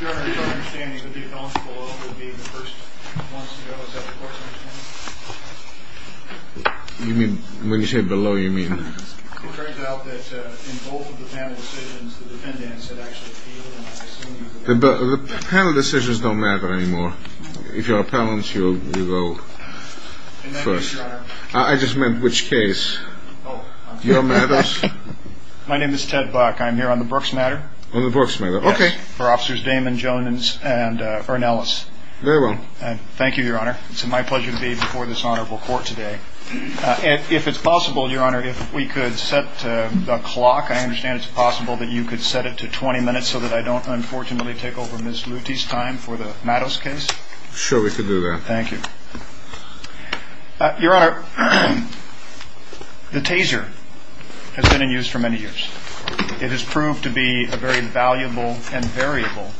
Your Honor, it is my understanding that the appellants below will be the first ones to go to settle Brooks v. City of Seattle. You mean, when you say below, you mean... It turns out that in both of the panel decisions, the defendants have actually appealed and... The panel decisions don't matter anymore. If you're an appellant, you go first. And that is, Your Honor... I just meant which case. Oh, I'm sorry. Your Mattos? My name is Ted Buck. I'm here on the Brooks matter. On the Brooks matter. Okay. For Officers Damon, Jones, and Ernelis. Very well. Thank you, Your Honor. It's my pleasure to be before this honorable court today. If it's possible, Your Honor, if we could set the clock. I understand it's possible that you could set it to 20 minutes so that I don't, unfortunately, take over Ms. Mooty's time for the Mattos case. Sure, we could do that. Thank you. Your Honor, the taser has been in use for many years. It has proved to be a very valuable and variable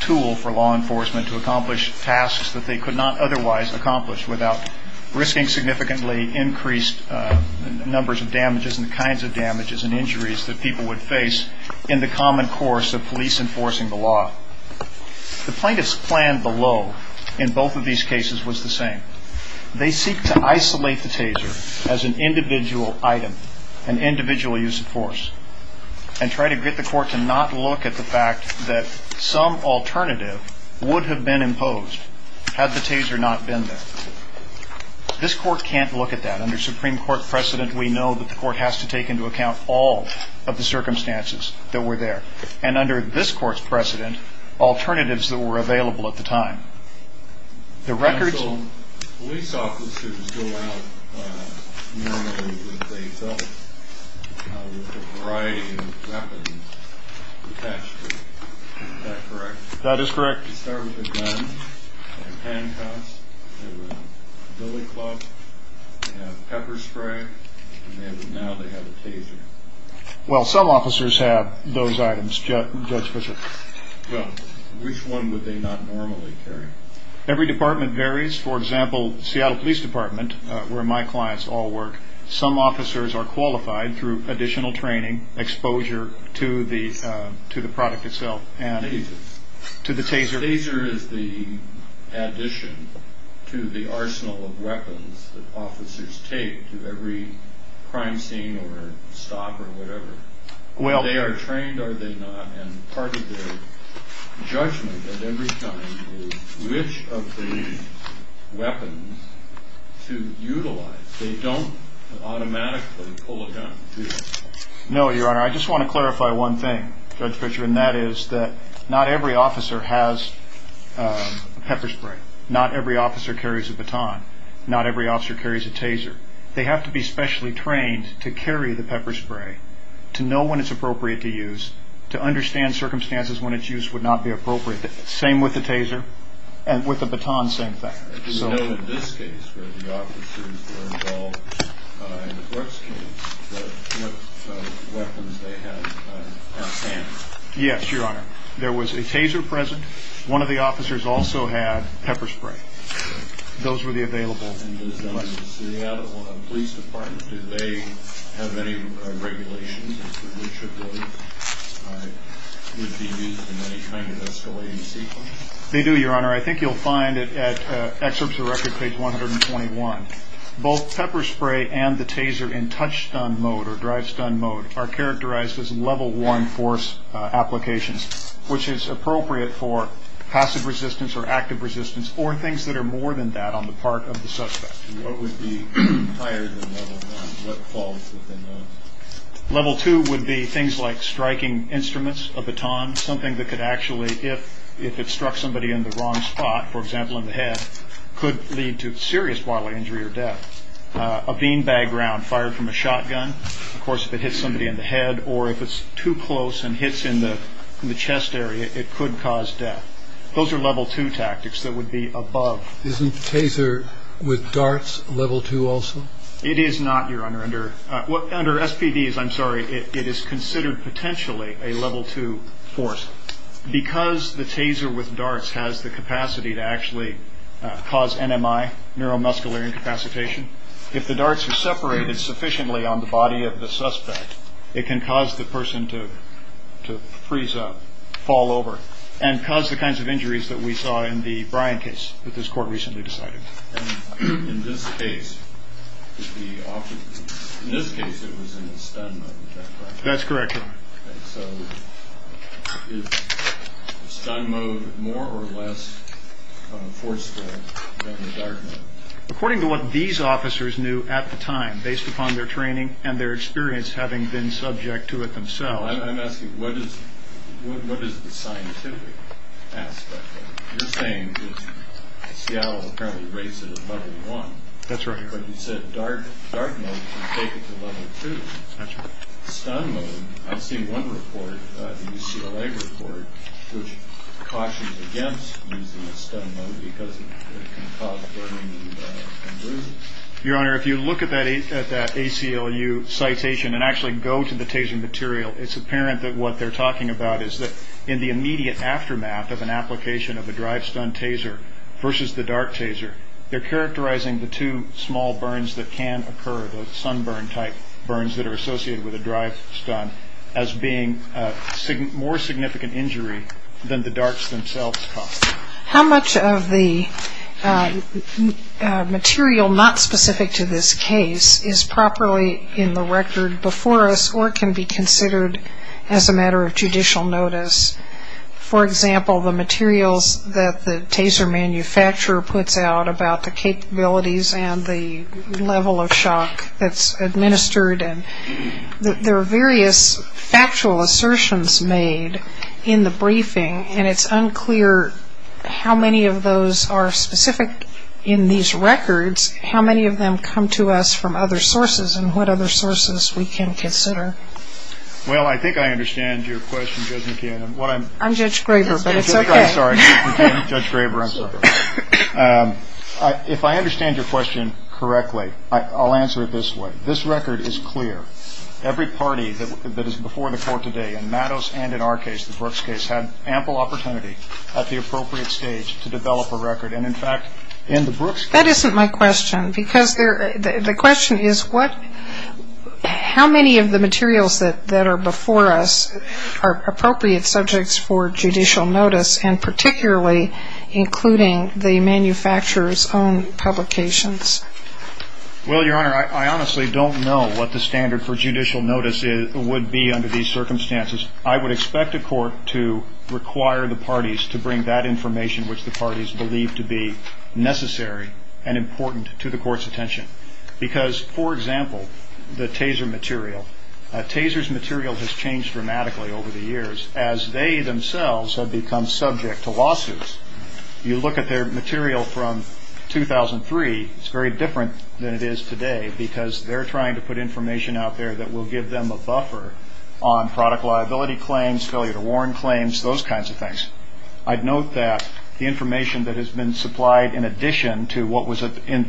tool for law enforcement to accomplish tasks that they could not otherwise accomplish without risking significantly increased numbers of damages and kinds of damages and injuries that people would face in the common course of police enforcing the law. The plaintiff's plan below in both of these cases was the same. They seek to isolate the taser as an individual item, an individual use of force, and try to get the court to not look at the fact that some alternative would have been imposed had the taser not been there. This court can't look at that. Under Supreme Court precedent, we know that the court has to take into account all of the circumstances that were there. And under this court's precedent, alternatives that were available at the time. Police officers go out normally with a variety of weapons attached to them. Is that correct? That is correct. They carry a gun, a handcuff, a billy club, a pepper spray, and now they have a taser. Well, some officers have those items, Judge Fischer. Which one would they not normally carry? Every department varies. For example, Seattle Police Department, where my clients all work, some officers are qualified through additional training, exposure to the product itself and to the taser. The taser is the addition to the arsenal of weapons that officers take to every crime scene or stop or whatever. Are they trained or are they not? And part of their judgment at every time is which of these weapons to utilize. They don't automatically pull a gun. No, Your Honor. I just want to clarify one thing, Judge Fischer, and that is that not every officer has a pepper spray. Not every officer carries a baton. Not every officer carries a taser. They have to be specially trained to carry the pepper spray, to know when it's appropriate to use, to understand circumstances when its use would not be appropriate. Same with the taser and with the baton, same thing. Yes, Your Honor. There was a taser present. One of the officers also had pepper spray. Those were the available ones. They do, Your Honor. I think you'll find it at Excerpts of Record, page 121. Both pepper spray and the taser in touch-stun mode or drive-stun mode are characterized as level one force applications, which is appropriate for passive resistance or active resistance, or things that are more than that on the part of the suspect. Level two would be things like striking instruments, a baton, something that could actually, if it struck somebody in the wrong spot, for example, in the head, could lead to serious bodily injury or death. A bean bag round fired from a shotgun, of course, if it hits somebody in the head or if it's too close and hits in the chest area, it could cause death. Those are level two tactics that would be above. Isn't taser with darts level two also? It is not, Your Honor. Under SPDs, I'm sorry, it is considered potentially a level two force. Because the taser with darts has the capacity to actually cause NMI, neuromuscular incapacitation, if the darts are separated sufficiently on the body of the suspect, it can cause the person to freeze up, fall over, and cause the kinds of injuries that we saw in the Bryan case that this Court recently decided. In this case, it was in the stun mode, is that correct? That's correct, Your Honor. Is the stun mode more or less forceful than the dart mode? According to what these officers knew at the time, based upon their training and their experience having been subject to it themselves. I'm asking what is the scientific aspect of it? You're saying that Seattle apparently raised it at level one. That's right, Your Honor. But you said dart mode can take it to level two. That's right. Stun mode, I've seen one report, the UCLA report, which cautions against using the stun mode because it can cause burning injuries. Your Honor, if you look at that ACLU citation and actually go to the taser material, it's apparent that what they're talking about is that in the immediate aftermath of an application of a drive-stun taser versus the dart taser, they're characterizing the two small burns that can occur, the sunburn-type burns that are associated with a drive-stun, as being more significant injury than the darts themselves. How much of the material not specific to this case is properly in the record before us or can be considered as a matter of judicial notice? For example, the materials that the taser manufacturer puts out about the capabilities and the level of shock that's administered. There are various factual assertions made in the briefing, and it's unclear how many of those are specific in these records, how many of them come to us from other sources, and what other sources we can consider. Well, I think I understand your question, Judge McKeon. I'm Judge Graber, but it's okay. I'm sorry, Judge Graber, I'm sorry. If I understand your question correctly, I'll answer it this way. This record is clear. Every party that is before the court today, in Mattos and in our case, the Brooks case, had ample opportunity at the appropriate stage to develop a record. And, in fact, in the Brooks case- That isn't my question, because the question is how many of the materials that are before us are appropriate subjects for judicial notice, and particularly including the manufacturer's own publications? Well, Your Honor, I honestly don't know what the standard for judicial notice would be under these circumstances. I would expect a court to require the parties to bring that information, which the parties believe to be necessary and important to the court's attention. Because, for example, the taser material. Taser's material has changed dramatically over the years as they themselves have become subject to lawsuits. You look at their material from 2003, it's very different than it is today, because they're trying to put information out there that will give them a buffer on product liability claims, failure to warn claims, those kinds of things. I'd note that the information that has been supplied in addition to what was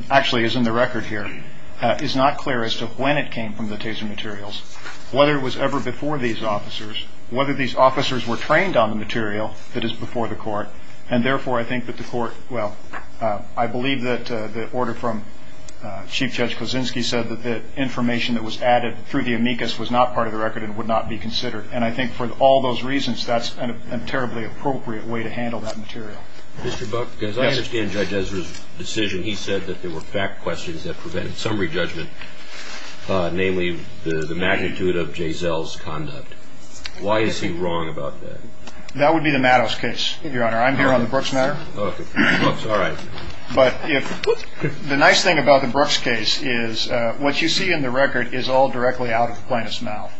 actually in the record here is not clear as to when it came from the taser materials, whether it was ever before these officers, whether these officers were trained on the material that is before the court. And, therefore, I think that the court- Well, I believe that the order from Chief Judge Kuczynski said that the information that was added through the amicus was not part of the record and would not be considered. And I think for all those reasons, that's a terribly appropriate way to handle that material. Mr. Buck, as I understand Judge Ezra's decision, he said that there were fact questions that prevented summary judgment, namely the magnitude of Jay Zell's conduct. Why is he wrong about that? That would be the Mattos case, Your Honor. I'm here on the Brooks matter. Okay. All right. But the nice thing about the Brooks case is what you see in the record is all directly out of plaintiff's mouth.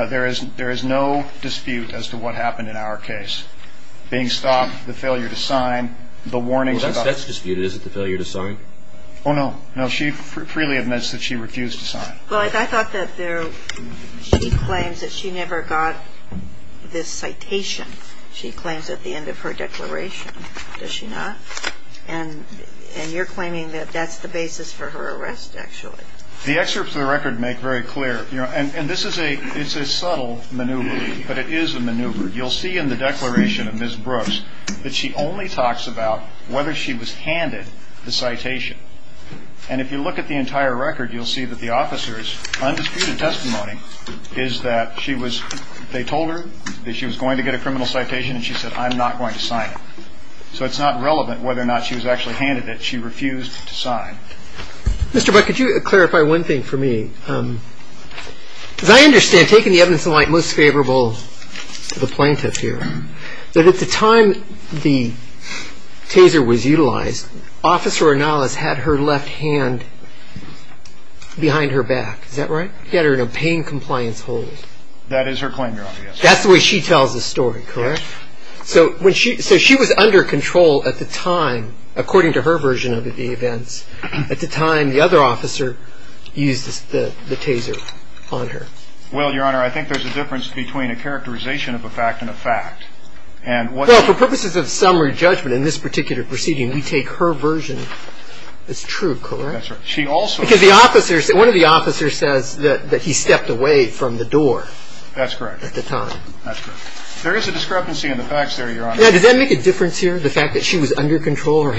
There is no dispute as to what happened in our case. Being stopped, the failure to sign, the warnings about- Well, that's disputed, is it? The failure to sign? Oh, no. No, she freely admits that she refused to sign. Well, I thought that she claims that she never got this citation. She claims at the end of her declaration, does she not? And you're claiming that that's the basis for her arrest, actually. The excerpts of the record make very clear- And this is a subtle maneuver, but it is a maneuver. You'll see in the declaration of Ms. Brooks that she only talks about whether she was handed the citation. And if you look at the entire record, you'll see that the officer's undisputed testimony is that she was- they told her that she was going to get a criminal citation, and she said, I'm not going to sign it. So it's not relevant whether or not she was actually handed it. She refused to sign. Mr. Buck, could you clarify one thing for me? Because I understand, taking the evidence in light, most favorable to the plaintiff here, that at the time the taser was utilized, Officer Arnalas had her left hand behind her back. Is that right? She had her in a pain compliance hold. That is her claim, your honor. That's the way she tells the story, correct? Yes. So she was under control at the time, according to her version of the event. At the time, the other officer used the taser on her. Well, your honor, I think there's a difference between a characterization of a fact and a fact. For purposes of summary judgment in this particular proceeding, we take her version as true, correct? She also- Because one of the officers says that he stepped away from the door. That's correct. At the time. There is a discrepancy in the facts there, your honor. Now, does that make a difference here, the fact that she was under control?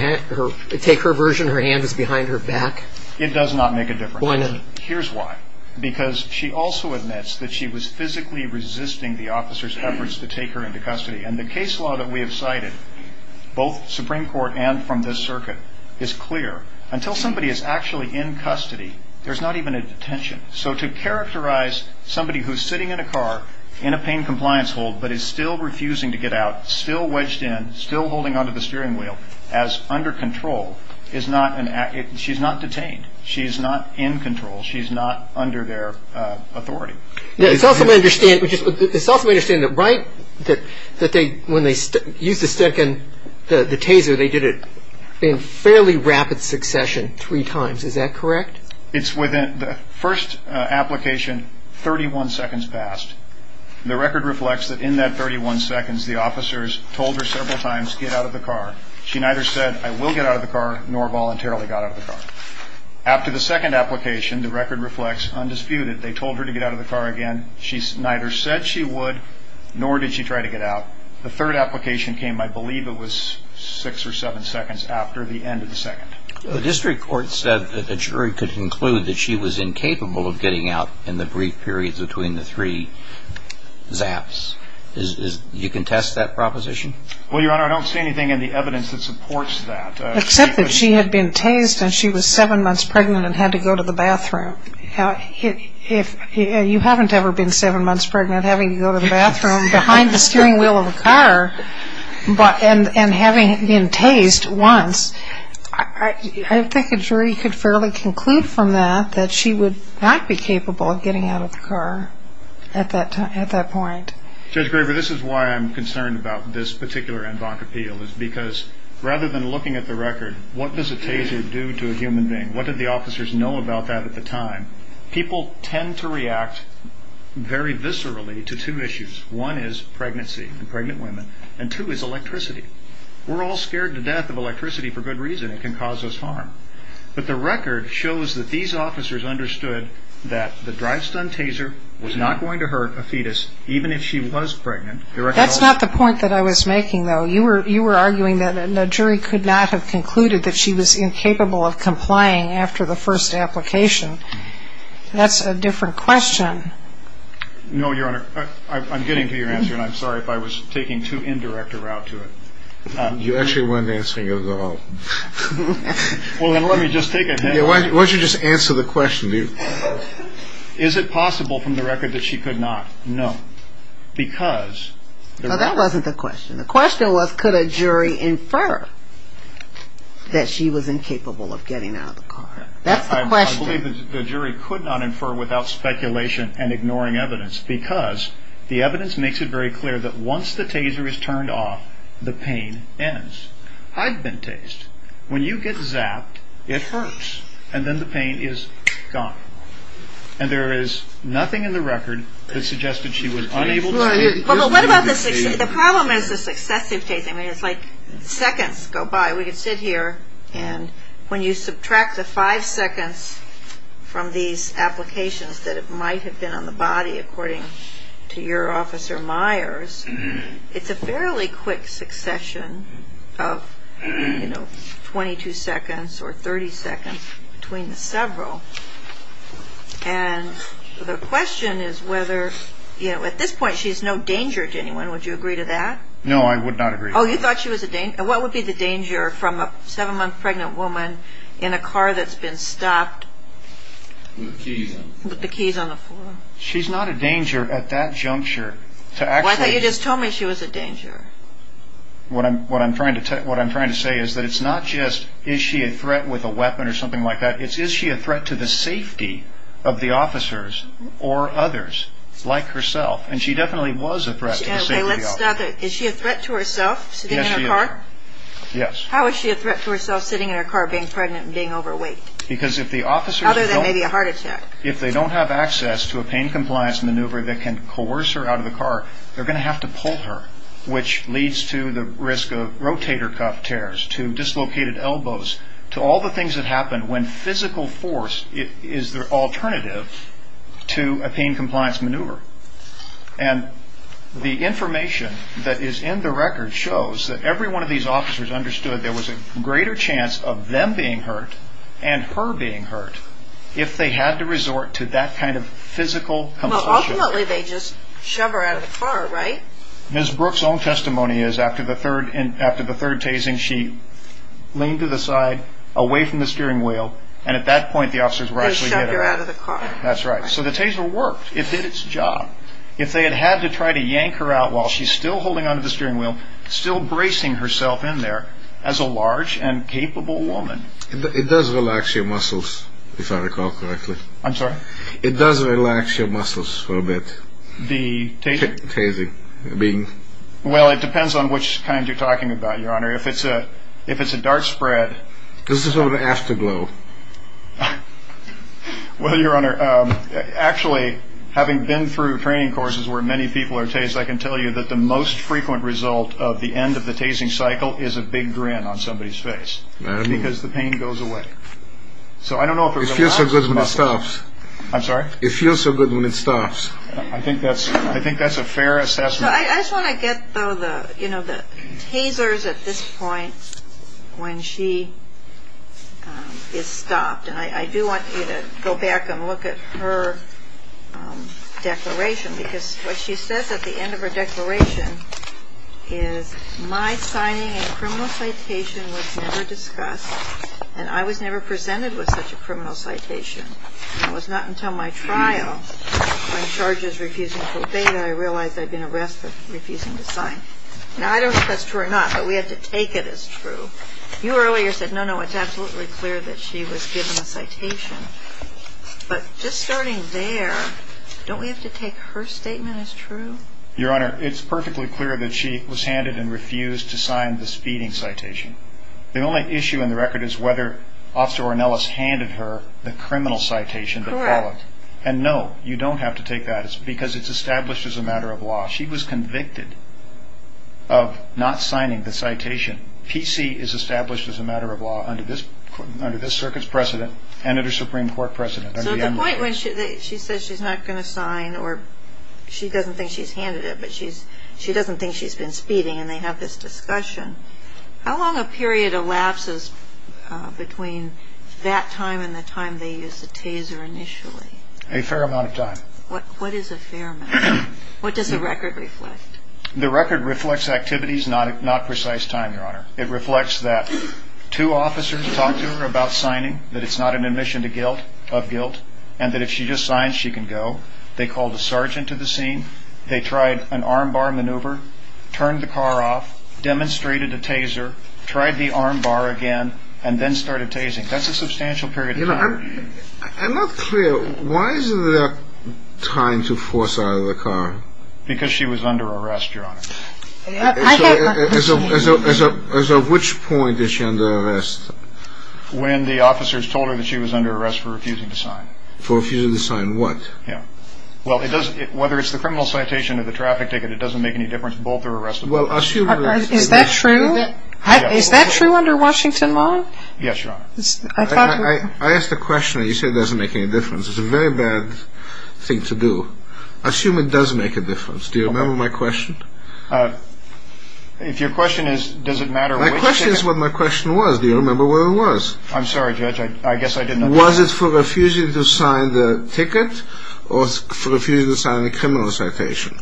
Take her version, her hand was behind her back? It does not make a difference. Why not? Here's why. Because she also admits that she was physically resisting the officer's efforts to take her into custody. And the case law that we have cited, both Supreme Court and from this circuit, is clear. Until somebody is actually in custody, there's not even a detention. So to characterize somebody who's sitting in a car, in a pain compliance hold, but is still refusing to get out, still wedged in, still holding onto the steering wheel, as under control, she's not detained. She's not in control. She's not under their authority. Now, it's helpful to understand that when they used the taser, they did it in fairly rapid succession, three times. Is that correct? It's within the first application, 31 seconds passed. The record reflects that in that 31 seconds, the officers told her several times, get out of the car. She neither said, I will get out of the car, nor voluntarily got out of the car. After the second application, the record reflects, undisputed, they told her to get out of the car again. She neither said she would, nor did she try to get out. The third application came, I believe it was six or seven seconds after the end of the second. The district court said that the jury could conclude that she was incapable of getting out in the brief period between the three zaps. Do you contest that proposition? Well, Your Honor, I don't see anything in the evidence that supports that. Except that she had been tased and she was seven months pregnant and had to go to the bathroom. You haven't ever been seven months pregnant, having to go to the bathroom, behind the steering wheel of a car, and having been tased once. I think the jury could fairly conclude from that that she would not be capable of getting out of the car at that point. Judge Graber, this is why I'm concerned about this particular en banc appeal, because rather than looking at the record, what does a taser do to a human being? What did the officers know about that at the time? People tend to react very viscerally to two issues. One is pregnancy and pregnant women, and two is electricity. We're all scared to death of electricity for good reason. It can cause us harm. But the record shows that these officers understood that the drive-stun taser was not going to hurt a fetus, even if she was pregnant. That's not the point that I was making, though. You were arguing that the jury could not have concluded that she was incapable of complying after the first application. That's a different question. No, Your Honor. I'm getting to your answer, and I'm sorry if I was taking too indirect a route to it. You actually won't answer yours at all. Well, then let me just take a hint. Why don't you just answer the question? Is it possible from the record that she could not? No. Because... No, that wasn't the question. The question was, could a jury infer that she was incapable of getting out of the car? That's the question. I believe that the jury could not infer without speculation and ignoring evidence, because the evidence makes it very clear that once the taser is turned off, the pain ends. I've been tased. When you get zapped, it hurts, and then the pain is gone. And there is nothing in the record that suggests that she was unable to get out of the car. The problem is the successive tasing. I mean, it's like seconds go by. We could sit here, and when you subtract the five seconds from these applications that it might have been on the body, according to your officer, Myers, it's a fairly quick succession of, you know, 22 seconds or 30 seconds between the several. And the question is whether, you know, at this point she's no danger to anyone. Would you agree to that? No, I would not agree to that. Oh, you thought she was a danger? What would be the danger from a seven-month pregnant woman in a car that's been stopped? With the keys on. With the keys on the floor. She's not a danger at that juncture. Why didn't you just tell me she was a danger? What I'm trying to say is that it's not just is she a threat with a weapon or something like that, it's is she a threat to the safety of the officers or others like herself. And she definitely was a threat to the safety of the officers. Is she a threat to herself sitting in a car? Yes, she is. Yes. How is she a threat to herself sitting in a car being pregnant and being overweight? Because if the officers don't... Other than maybe a heart attack. If they don't have access to a pain compliance maneuver that can coerce her out of the car, they're going to have to pull her, which leads to the risk of rotator cuff tears, to dislocated elbows, to all the things that happen when physical force is the alternative to a pain compliance maneuver. And the information that is in the record shows that every one of these officers understood there was a greater chance of them being hurt and her being hurt if they had to resort to that kind of physical compulsion. Well, ultimately they just shove her out of the car, right? Ms. Brooks' own testimony is after the third tasing, she leaned to the side, away from the steering wheel, and at that point the officers were actually... They shoved her out of the car. That's right. So the taser worked. It did its job. If they had had to try to yank her out while she's still holding onto the steering wheel, still bracing herself in there as a large and capable woman... It does relax your muscles, if I recall correctly. I'm sorry? It does relax your muscles a little bit. The taser? The taser. I mean... Well, it depends on which kind you're talking about, Your Honor. If it's a dart spread... This is sort of afterglow. Well, Your Honor, actually, having been through training courses where many people are tased, I can tell you that the most frequent result of the end of the tasing cycle is a big grin on somebody's face, because the pain goes away. So I don't know if it relaxes the muscles. It feels so good when it stops. I'm sorry? It feels so good when it stops. I think that's a fair assessment. I just want to get the tasers at this point when she is stopped, and I do want you to go back and look at her declaration, because what she says at the end of her declaration is, my signing a criminal citation was never discussed, and I was never presented with such a criminal citation. It was not until my trial, when George is refusing to obey me, I realized I'd been arrested for refusing to sign. Now, I don't know if that's true or not, but we have to take it as true. You earlier said, no, no, it's absolutely clear that she was given a citation. But just starting there, don't we have to take her statement as true? Your Honor, it's perfectly clear that she was handed and refused to sign the speeding citation. The only issue in the record is whether Officer Ornelas handed her the criminal citation. Correct. And, no, you don't have to take that, because it's established as a matter of law. She was convicted of not signing the citation. PC is established as a matter of law under this Circuit's precedent and under the Supreme Court precedent. So at the point when she says she's not going to sign or she doesn't think she's handed it, but she doesn't think she's been speeding and they have this discussion, how long a period elapses between that time and the time they used the taser initially? A fair amount of time. What is a fair amount of time? What does the record reflect? The record reflects activities, not precise time, Your Honor. It reflects that two officers talked to her about signing, that it's not an admission of guilt, and that if she just signs, she can go. They called a sergeant to the scene. They tried an armbar maneuver, turned the car off, demonstrated a taser, tried the armbar again, and then started tasing. That's a substantial period of time. I'm not clear. Why is there time to force out of the car? Because she was under arrest, Your Honor. And so at which point is she under arrest? When the officers told her that she was under arrest for refusing to sign. For refusing to sign what? Well, whether it's the criminal citation or the traffic ticket, it doesn't make any difference. Both are arrestable. Is that true? Is that true under Washington law? Yes, Your Honor. I asked a question and you said it doesn't make any difference. It's a very bad thing to do. Assume it does make a difference. Do you remember my question? If your question is, does it matter? My question is what my question was. Do you remember what it was? I'm sorry, Judge. I guess I didn't know. Was it for refusing to sign the ticket or for refusing to sign the criminal citation?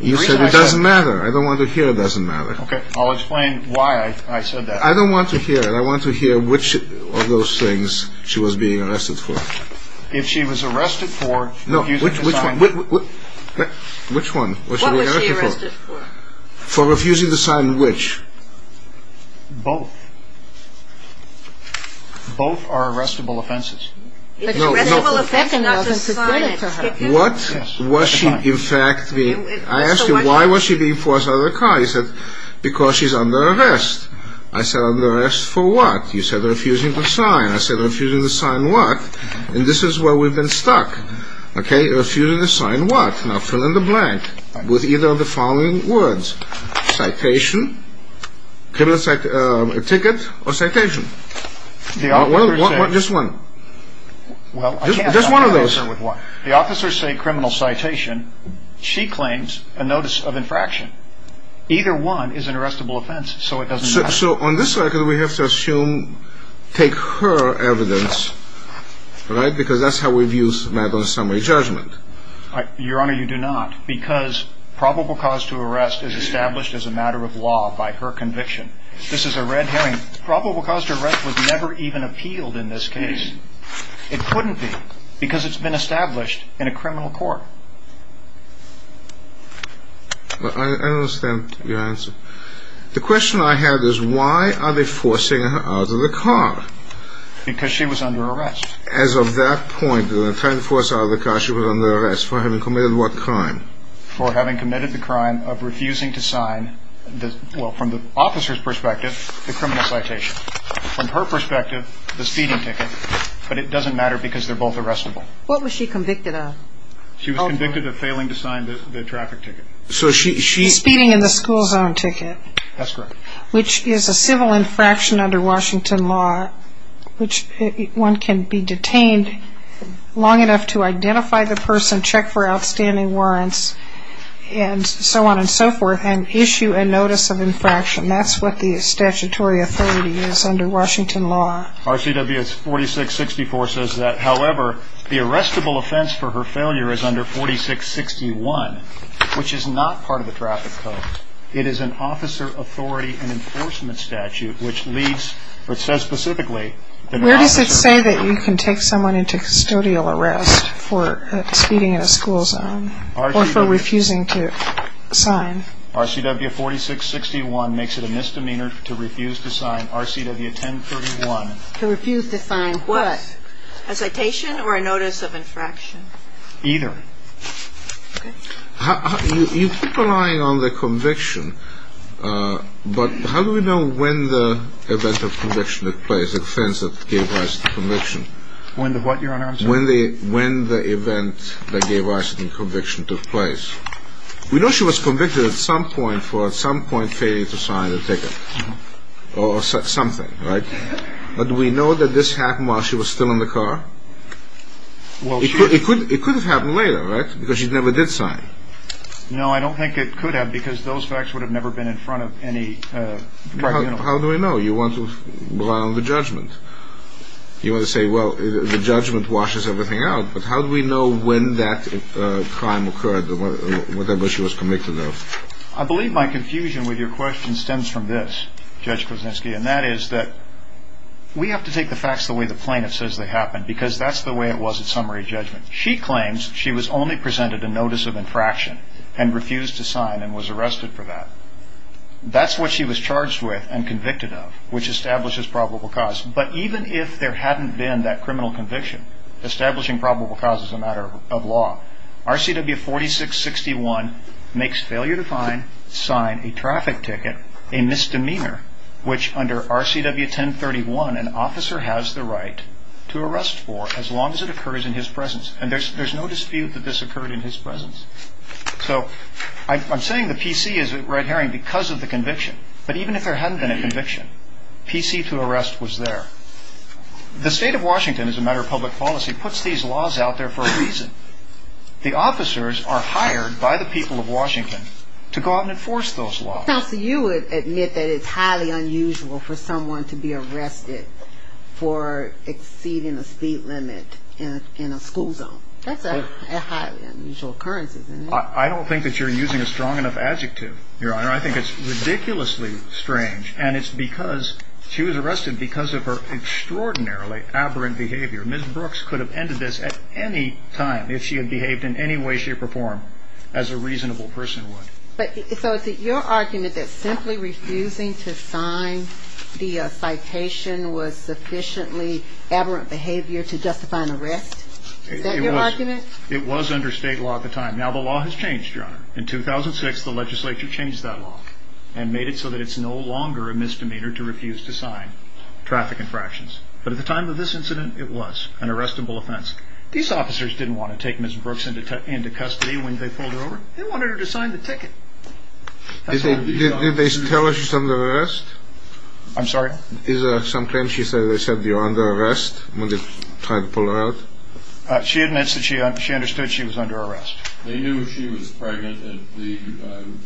You said it doesn't matter. I don't want to hear it doesn't matter. Okay. I'll explain why I said that. I don't want to hear it. I want to hear which of those things she was being arrested for. If she was arrested for refusing to sign. Which one? What was she arrested for? For refusing to sign which? Both. Both are arrestable offenses. What was she in fact being... I asked you why was she being forced out of the car? You said because she's under arrest. I said under arrest for what? You said refusing to sign. I said refusing to sign what? And this is where we've been stuck. Okay, refusing to sign what? Now fill in the blank with either of the following words. Citation, ticket, or citation. This one. This one of those. The officers say criminal citation. She claims a notice of infraction. Either one is an arrestable offense, so it doesn't matter. So on this side we have to assume, take her evidence, right, because that's how we view a matter of summary judgment. Your Honor, you do not because probable cause to arrest is established as a matter of law by her conviction. This is a red herring. Probable cause to arrest was never even appealed in this case. It couldn't be because it's been established in a criminal court. I understand your answer. The question I have is why are they forcing her out of the car? Because she was under arrest. As of that point, they're trying to force her out of the car. She was under arrest for having committed what crime? For having committed the crime of refusing to sign, well, from the officer's perspective, the criminal citation. From her perspective, the speeding ticket. But it doesn't matter because they're both arrestable. What was she convicted of? She was convicted of failing to sign the traffic ticket. The speeding and the school zone ticket. That's correct. Which is a civil infraction under Washington law, which one can be detained long enough to identify the person, check for outstanding warrants, and so on and so forth, and issue a notice of infraction. That's what the statutory authority is under Washington law. RCWS 4664 says that, however, the arrestable offense for her failure is under 4661, which is not part of the traffic code. It is an officer authority and enforcement statute, which leads, which says specifically, Where does it say that you can take someone into custodial arrest for speeding in a school zone or for refusing to sign? RCWS 4661 makes it a misdemeanor to refuse to sign RCWS 1031. To refuse to sign what? A citation or a notice of infraction? Either. You keep relying on the conviction, but how do we know when the event of conviction took place, the offense that gave rise to conviction? When the what, your honor? When the event that gave rise to conviction took place. We know she was convicted at some point for at some point failing to sign the ticket, or something, right? But do we know that this happened while she was still in the car? It could have happened later, right? Because she never did sign. No, I don't think it could have, because those facts would have never been in front of any tribunal. How do we know? You want to rely on the judgment. You want to say, well, the judgment washes everything out. But how do we know when that crime occurred, when she was convicted, though? I believe my confusion with your question stems from this, Judge Krasinski, and that is that We have to take the facts the way the plaintiff says they happened, because that's the way it was in summary judgment. She claims she was only presented a notice of infraction and refused to sign and was arrested for that. That's what she was charged with and convicted of, which establishes probable cause. But even if there hadn't been that criminal conviction, establishing probable cause is a matter of law. RCW 4661 makes failure to sign a traffic ticket a misdemeanor, which under RCW 1031 an officer has the right to arrest for as long as it occurs in his presence. And there's no dispute that this occurred in his presence. So I'm saying the PC is red herring because of the conviction. But even if there hadn't been a conviction, PC to arrest was there. The state of Washington, as a matter of public policy, puts these laws out there for a reason. The officers are hired by the people of Washington to go out and enforce those laws. So you would admit that it's highly unusual for someone to be arrested for exceeding the speed limit in a school zone. That's a highly unusual occurrence, isn't it? I don't think that you're using a strong enough adjective, Your Honor. I think it's ridiculously strange. And it's because she was arrested because of her extraordinarily aberrant behavior. Ms. Brooks could have ended this at any time if she had behaved in any way, shape, or form as a reasonable person would. So is it your argument that simply refusing to sign the citation was sufficiently aberrant behavior to justify an arrest? Is that your argument? It was under state law at the time. Now, the law has changed, Your Honor. In 2006, the legislature changed that law and made it so that it's no longer a misdemeanor to refuse to sign traffic infractions. But at the time of this incident, it was an arrestable offense. These officers didn't want to take Ms. Brooks into custody when they pulled her over. They wanted her to sign the ticket. Did they tell her she's under arrest? I'm sorry? Is there some claim she said they said you're under arrest when they tried to pull her out? She admits that she understood she was under arrest. They knew she was pregnant at the time.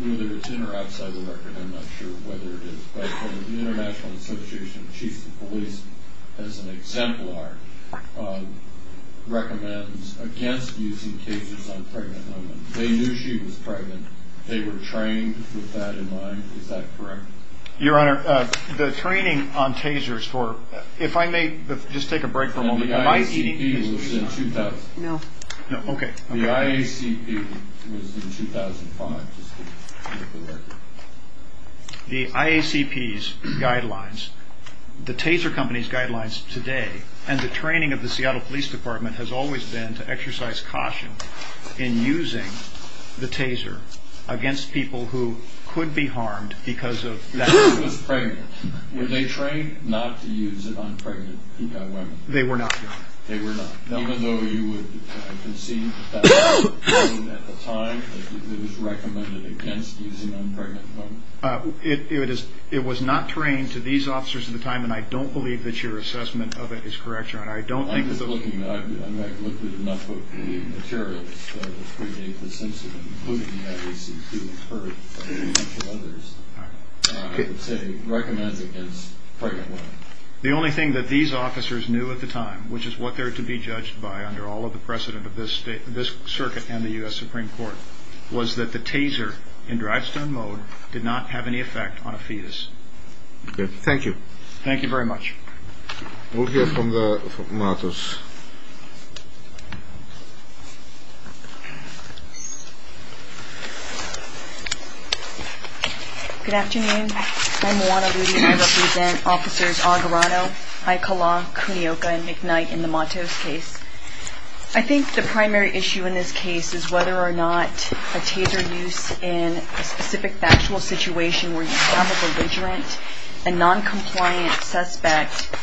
Whether it's in or outside the record, I'm not sure whether it is. But the International Association of Chiefs of Police, as an exemplar, recommends against using tasers on pregnant women. They knew she was pregnant. They were trained with that in mind. Is that correct? Your Honor, the training on tasers for – if I may just take a break for a moment. The IACP was in 2005. No. Okay. The IACP was in 2005. The IACP's guidelines, the taser company's guidelines today, and the training of the Seattle Police Department has always been to exercise caution in using the taser against people who could be harmed because of that. Because she was pregnant. Were they trained not to use it on pregnant women? They were not, Your Honor. They were not. Even though you would seem to have been trained at the time, it was recommended against using on pregnant women? It was not trained to these officers at the time, and I don't believe that your assessment of it is correct, Your Honor. I don't think that those – I'm just looking at it. I might have looked at enough of the material to try to predate this incident, including that it was excused first by the initial others. All right. I would say recommended against pregnant women. The only thing that these officers knew at the time, which is what they're to be judged by under all of the precedent of this circuit and the U.S. Supreme Court, was that the taser in drive-stun mode did not have any effect on a fetus. Okay. Thank you. Thank you very much. We'll hear from the monitors. Good afternoon. I'm Juana Rudy. I represent Officers Agarano, Aikala, Kunioka, and McKnight in the Matos case. I think the primary issue in this case is whether or not a taser used in a specific factual situation where you found a belligerent and noncompliant suspect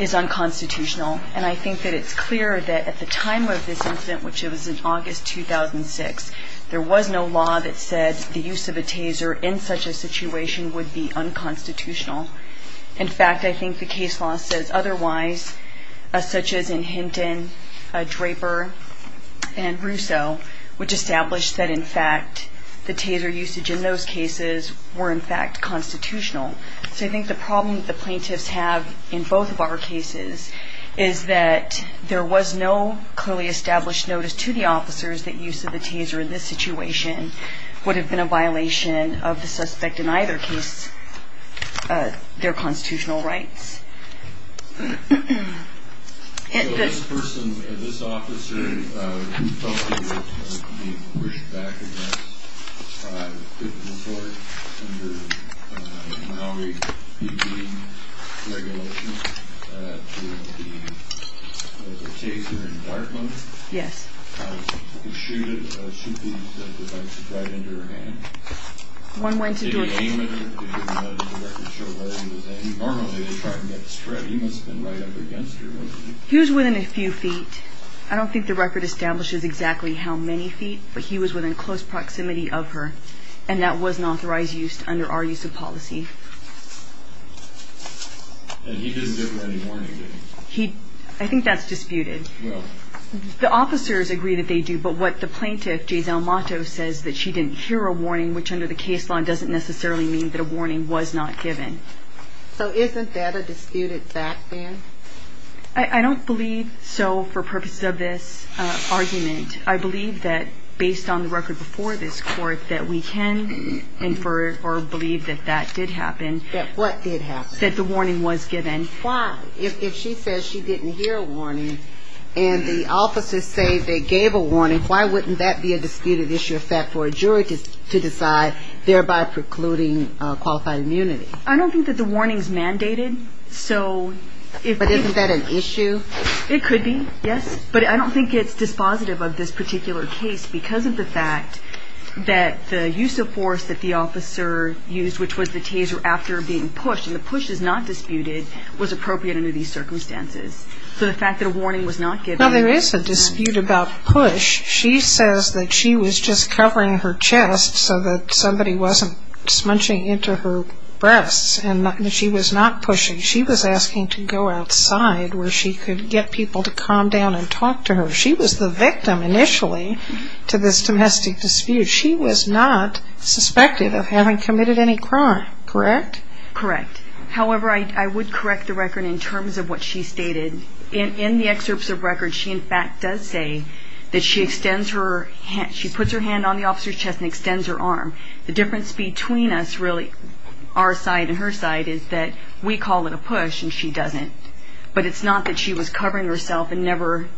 is unconstitutional. And I think that it's clear that at the time of this incident, which was in August 2006, there was no law that said the use of a taser in such a situation would be unconstitutional. In fact, I think the case law says otherwise, such as in Hinton, Draper, and Russo, which established that, in fact, the taser usage in those cases were, in fact, constitutional. So I think the problem that the plaintiffs have in both of our cases is that there was no clearly established notice to the officers that use of the taser in this situation would have been a violation of the suspect in either case. They're constitutional, right? So this person, this officer, who's talking about being pushed back against a criminal court under an outreach regime regulation to be a taser in Dartmouth. He was shooted, as Cynthia said, with a knife right into her hand. One more instance of anything. He was within a few feet. I don't think the record establishes exactly how many feet, but he was within close proximity of her. And that was an authorized use under our use of policies. I think that's disputed. The officers agree that they do, but what the plaintiff, J. Delmato, says that she didn't hear a warning, which under the case law doesn't necessarily mean that a warning was not given. So isn't that a disputed fact, then? I don't believe so for purposes of this argument. I believe that, based on the record before this court, that we can infer or believe that that did happen. That what did happen? That the warning was given. Why, if she says she didn't hear a warning, and the officers say they gave a warning, why wouldn't that be a disputed issue of fact for a jury to decide, thereby precluding qualified immunity? I don't think that the warning's mandated. But isn't that an issue? It could be, yes. But I don't think it's dispositive of this particular case because of the fact that the use of force that the officer used, which was the taser after being pushed, and the push is not disputed, was appropriate under these circumstances. So the fact that a warning was not given... No, there is a dispute about push. She says that she was just covering her chest so that somebody wasn't smudging into her breasts, and she was not pushing. She was asking to go outside where she could get people to calm down and talk to her. She was the victim, initially, to this domestic dispute. She was not suspected of having committed any crime, correct? Correct. However, I would correct the record in terms of what she stated. In the excerpts of records, she, in fact, does say that she puts her hand on the officer's chest and extends her arm. The difference between us, really, our side and her side, is that we call it a push and she doesn't. But it's not that she was covering herself and never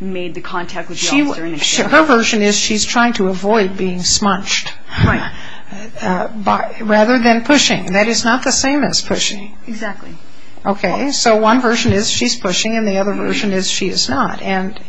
made the contact with the officer. Her version is she's trying to avoid being smudged rather than pushing. That is not the same as pushing. Exactly. Okay, so one version is she's pushing, and the other version is she is not. And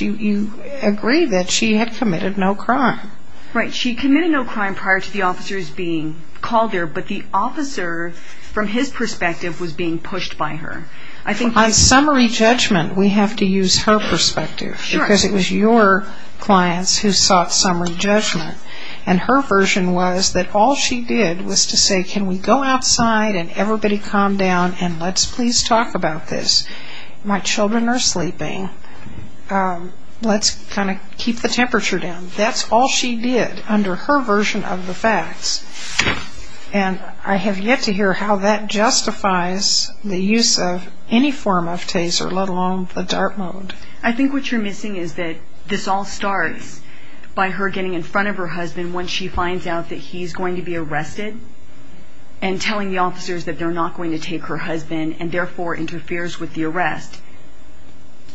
you agree that she had committed no crime. Right, she committed no crime prior to the officers being called there, but the officer, from his perspective, was being pushed by her. On summary judgment, we have to use her perspective. Because it was your clients who sought summary judgment. And her version was that all she did was to say, can we go outside and everybody calm down and let's please talk about this. My children are sleeping. Let's kind of keep the temperature down. That's all she did under her version of the facts. And I have yet to hear how that justifies the use of any form of TASER, let alone the DART mode. I think what you're missing is that this all starts by her getting in front of her husband once she finds out that he's going to be arrested and telling the officers that they're not going to take her husband and, therefore, interferes with the arrest.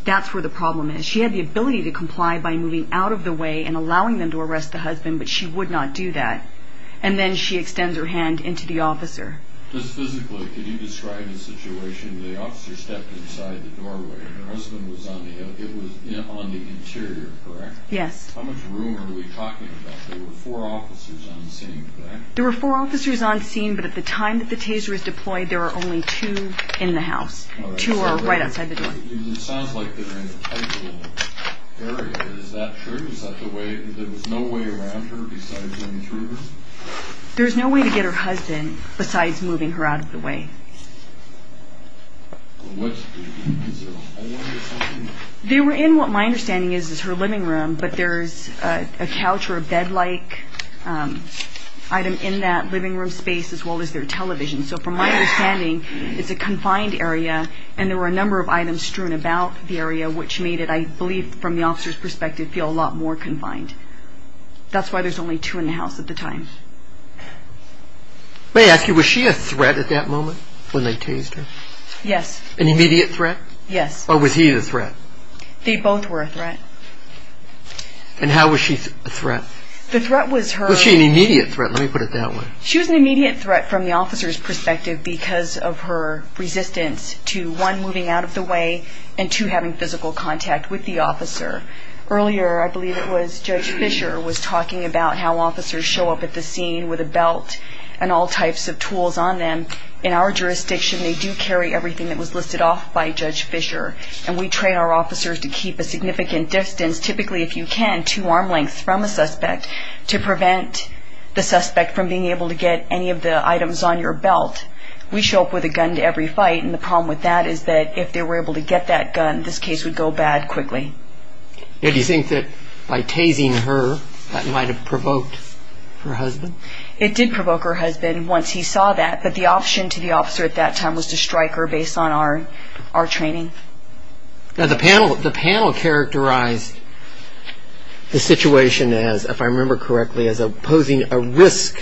That's where the problem is. She had the ability to comply by moving out of the way and allowing them to arrest the husband, but she would not do that. And then she extends her hand into the officer. Just physically, can you describe the situation where the officer stepped inside the doorway and her husband was on the interior, correct? Yes. How much room are we talking about? There were four officers on scene, correct? There were four officers on scene, but at the time that the TASER was deployed, there were only two in the house. Two were right outside the door. It sounds like they were in a tight little area. Is that true? There was no way around her besides the intruders? There was no way to get her husband besides moving her out of the way. They were in what my understanding is is her living room, but there's a couch or a bed-like item in that living room space as well as their television. So from my understanding, it's a confined area, and there were a number of items strewn about the area, which made it, I believe from the officer's perspective, feel a lot more confined. That's why there's only two in the house at the time. May I ask you, was she a threat at that moment when they TASED her? Yes. An immediate threat? Yes. Or was he the threat? They both were a threat. And how was she a threat? The threat was her... Was she an immediate threat? Let me put it that way. She was an immediate threat from the officer's perspective because of her resistance to, one, moving out of the way and, two, having physical contact with the officer. Earlier, I believe it was Judge Fisher was talking about how officers show up at the scene with a belt and all types of tools on them. In our jurisdiction, they do carry everything that was listed off by Judge Fisher, and we train our officers to keep a significant distance, typically, if you can, two arm lengths from a suspect to prevent the suspect from being able to get any of the items on your belt. We show up with a gun to every fight, and the problem with that is that if they were able to get that gun, this case would go bad quickly. And do you think that by TASING her, that might have provoked her husband? It did provoke her husband once he saw that, but the option to the officer at that time was to strike her based on our training. Now, the panel characterized the situation as, if I remember correctly, as posing a risk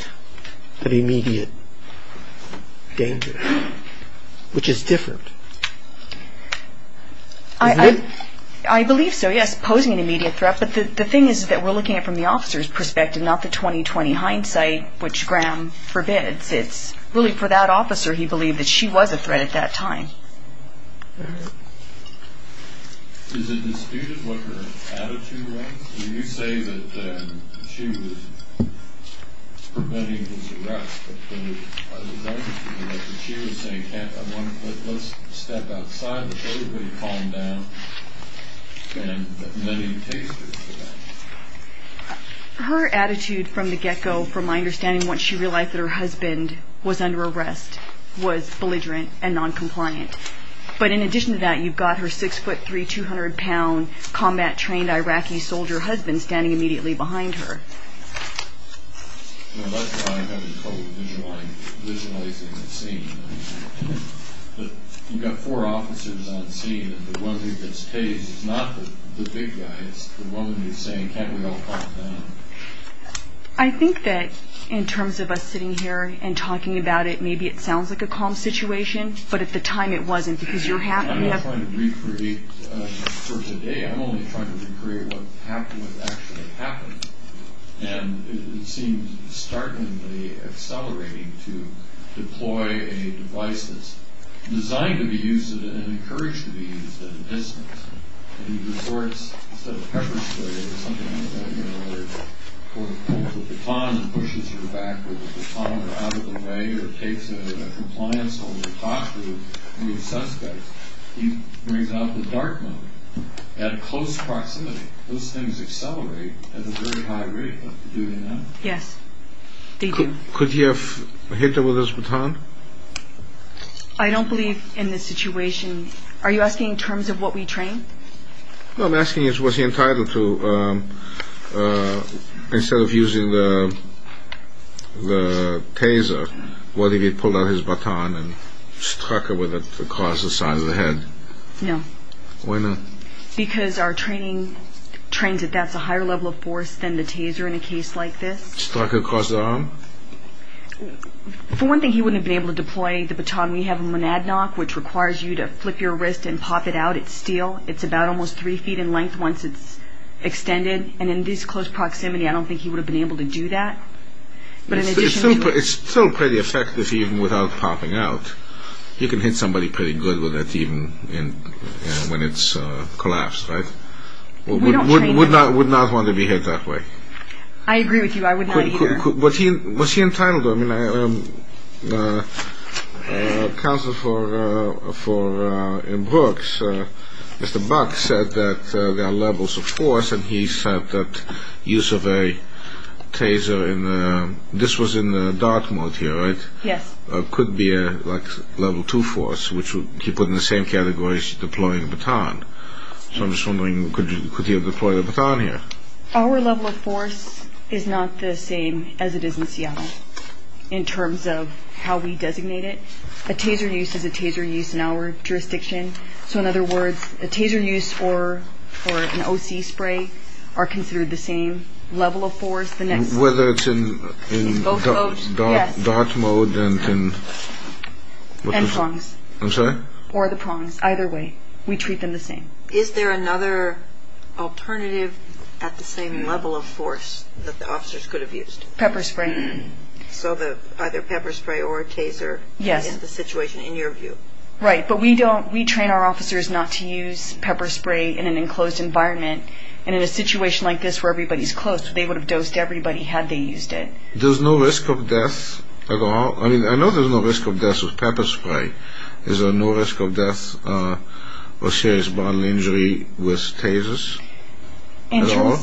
for the immediate danger, which is different. I believe so, yes, posing an immediate threat, but the thing is that we're looking at it from the officer's perspective, not the 20-20 hindsight, which Graham forbids. It's really for that officer he believed that she was a threat at that time. Thank you. Is it disputed what her attitude was? When you say that she was preventing his arrest, I was wondering if she was saying, let's step outside, let everybody calm down, and let me take care of that. And once she realized that her husband was under arrest, was belligerent and noncompliant. But in addition to that, you've got her six-foot-three, 200-pound, combat-trained Iraqi soldier husband standing immediately behind her. That's why I'm having trouble visualizing the scene. You've got four officers on the scene, and the one who gets TASED is not the big guy, it's the woman who's saying, can't we all calm down? I think that in terms of us sitting here and talking about it, maybe it sounds like a calm situation, but at the time it wasn't. I'm just trying to recreate for today, I'm only trying to recreate what actually happened. And it seems startlingly accelerating to deploy a device that's designed to be used and encouraged to be used at a distance. And he reports, instead of pepper spray or something like that, for the baton and pushes her back with the baton and out of the way, or takes him in a compliance only posture of the suspect, he brings out the dart gun at a close proximity. Those things accelerate at a very high rate. Yes, they do. Could you have hinted with this baton? I don't believe in this situation. Are you asking in terms of what we train? No, I'm asking what he's entitled to. Instead of using the TASER, what if he pulled out his baton and struck her with it across the side of the head? No. Why not? Because our training trains that that's a higher level of force than the TASER in a case like this. Struck her across the arm? For one thing, he wouldn't have been able to deploy the baton. We have a monadnock, which requires you to flip your wrist and pop it out. It's steel. It's about almost three feet in length once it's extended. And in this close proximity, I don't think he would have been able to do that. It's still pretty effective even without popping out. You can hit somebody pretty good with that even when it's collapsed, right? Would not want to be hit that way. I agree with you. I would not either. What's he entitled to? Counsel in Brooks, Mr. Buck, said that there are levels of force, and he said that use of a TASER, and this was in the dark mode here, right? Yes. Could be a level two force, which he put in the same category as deploying a baton. So I'm just wondering, could he have deployed a baton here? Our level of force is not the same as it is in Seattle in terms of how we designate it. A TASER use is a TASER use in our jurisdiction. So, in other words, a TASER use or an OC spray are considered the same level of force. Whether it's in dark mode and what is it? And prongs. I'm sorry? Or the prongs, either way. We treat them the same. Is there another alternative at the same level of force that the officers could have used? Pepper spray. So either pepper spray or a TASER in the situation, in your view? Right, but we train our officers not to use pepper spray in an enclosed environment, and in a situation like this where everybody's close, they would have dosed everybody had they used it. There's no risk of death at all. I mean, I know there's no risk of death with pepper spray. Is there no risk of death or serious bodily injury with TASERs at all?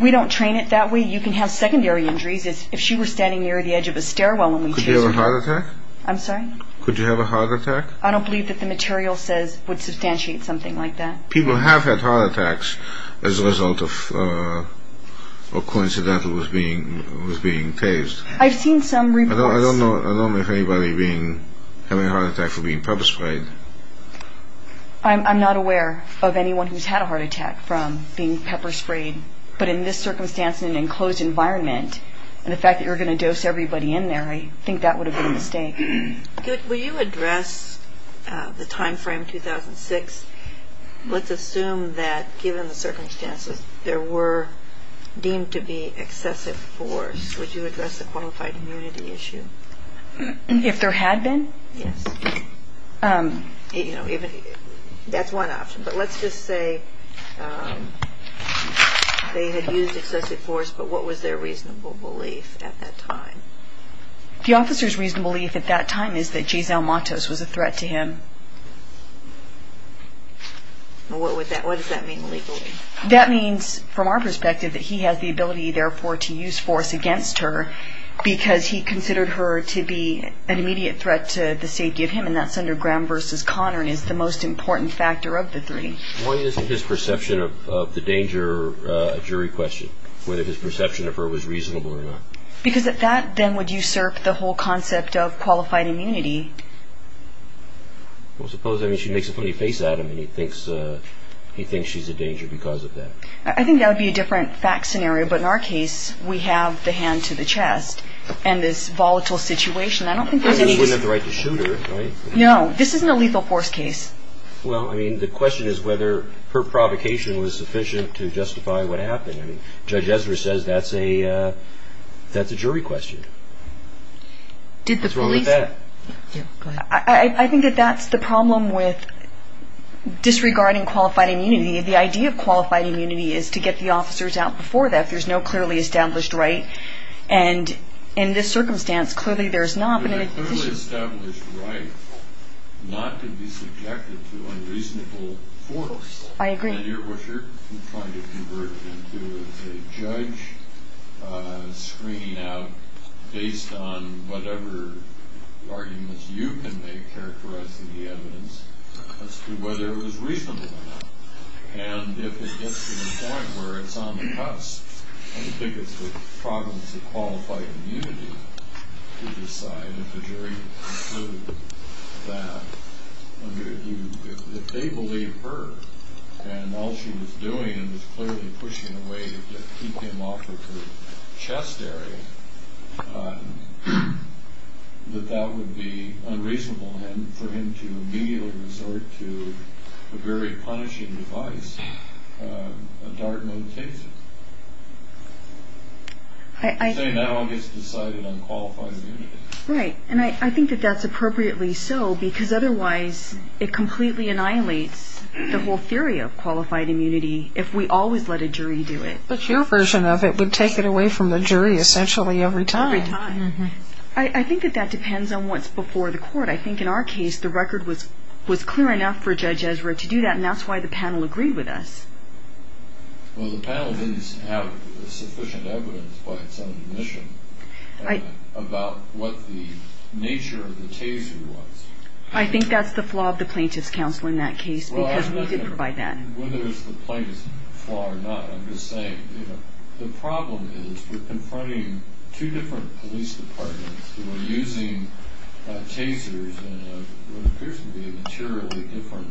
We don't train it that way. You can have secondary injuries. If she was standing near the edge of a stairwell when we treated her. Could you have a heart attack? I'm sorry? Could you have a heart attack? I don't believe that the material says it would substantiate something like that. People have had heart attacks as a result of coincidentally being TASED. I've seen some reports. I don't know of anybody having a heart attack from being pepper sprayed. I'm not aware of anyone who's had a heart attack from being pepper sprayed, but in this circumstance in an enclosed environment, and the fact that you're going to dose everybody in there, I think that would have been a mistake. Will you address the timeframe 2006? Let's assume that given the circumstances, there were deemed to be excessive force. Would you address the qualified immunity issue? If there had been? Yes. That's one option, but let's just say they had used excessive force, but what was their reasonable belief at that time? The officer's reasonable belief at that time is that Jay Zalmatos was a threat to him. What does that mean, reasonably? That means, from our perspective, that he had the ability, therefore, to use force against her because he considered her to be an immediate threat to the safety of him, and that's under Graham v. Conard, and it's the most important factor of the three. Why isn't his perception of the danger a jury question, whether his perception of her was reasonable or not? Because at that, then, would usurp the whole concept of qualified immunity. Well, suppose she makes a funny face at him, and he thinks she's a danger because of that. I think that would be a different fact scenario, but in our case, we have the hand to the chest, and this volatile situation, I don't think there's any... Well, he wouldn't have the right to shoot her, right? No, this isn't a lethal force case. Well, I mean, the question is whether her provocation was sufficient to justify what happened. Judge Ezra says that's a jury question. What about that? I think that that's the problem with disregarding qualified immunity. The idea of qualified immunity is to get the officers out before that. There's no clearly established right, and in this circumstance, clearly there's not. There's a clearly established right not to be subjected to unreasonable force. I agree. You're trying to convert into a judge, screening out based on whatever arguments you can make characterizing the evidence as to whether it was reasonable or not. And if it gets to the point where it's on the cusp, I think it's a problem for qualified immunity to decide. ...that if they believe her, and all she was doing was clearly pushing a way to keep him off of her chest area, that that would be unreasonable, and for him to immediately resort to a very punishing device, a dart and a taser. I think that one gets decided on qualified immunity. Right. And I think that that's appropriately so, because otherwise it completely annihilates the whole theory of qualified immunity if we always let a jury do it. But your version of it would take it away from the jury essentially every time. Every time. I think that that depends on what's before the court. I think in our case, the record was clear enough for Judge Ezra to do that, and that's why the panel agreed with us. Well, the panel didn't have sufficient evidence by telecommission about what the nature of the taser was. I think that's the flaw of the plaintiff's counsel in that case, because we did provide that. Whether it's the plaintiff's flaw or not, I'm just saying, the problem is we're comparing two different police departments who were using tasers in what appears to be a materially different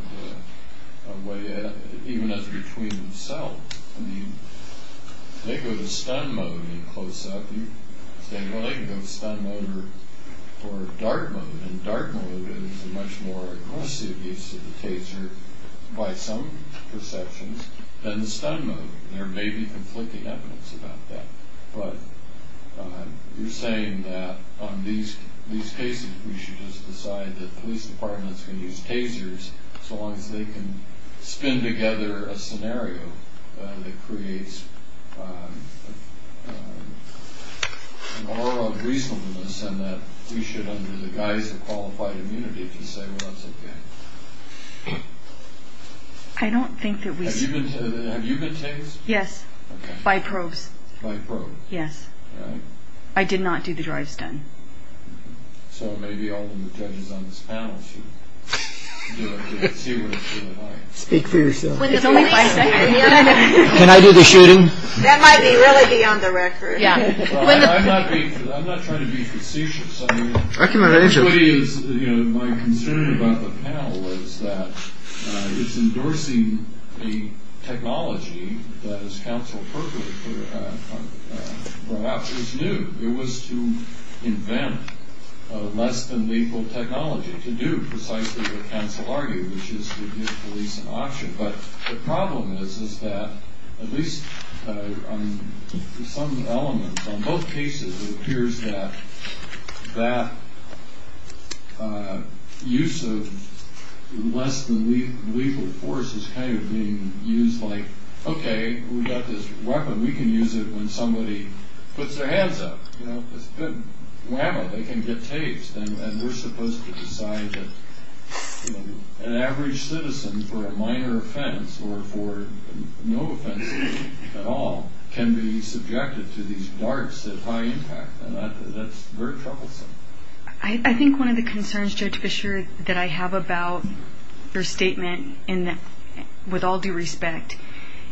way, even as between themselves. I mean, they go to stun mode in close-up, and they go to stun mode or dark mode, and dark mode is a much more aggressive use of the taser, by some perceptions, than stun mode. There may be conflicting evidence about that. But you're saying that on these cases, we should just decide that police departments can use tasers so long as they can spin together a scenario that creates an aura of reasonableness and that we should, under the guise of qualified immunity, can say, well, that's okay. I don't think that we should. Have you been tased? Yes, by probes. By probes? Yes. All right. I did not do the dry stun. So maybe I'll let the judges on this panel speak for themselves. Can I do the shooting? That might really be on the record. I'm not trying to be facetious. Actually, my concern about the panel was that endorsing the technology that is counseled for perhaps is new. It was to invent a less-than-lethal technology to do precisely what counsel argued, which is to give police an option. But the problem is that at least on some elements, on both cases, it appears that that use of less-than-lethal force is kind of being used like, okay, we've got this weapon. We can use it when somebody puts their hands up. Wow, they can get tased. And we're supposed to decide that an average citizen for a minor offense or for no offense at all can be subjected to these darts at high impact. That's very troublesome. I think one of the concerns, Judge Fischer, that I have about your statement, with all due respect,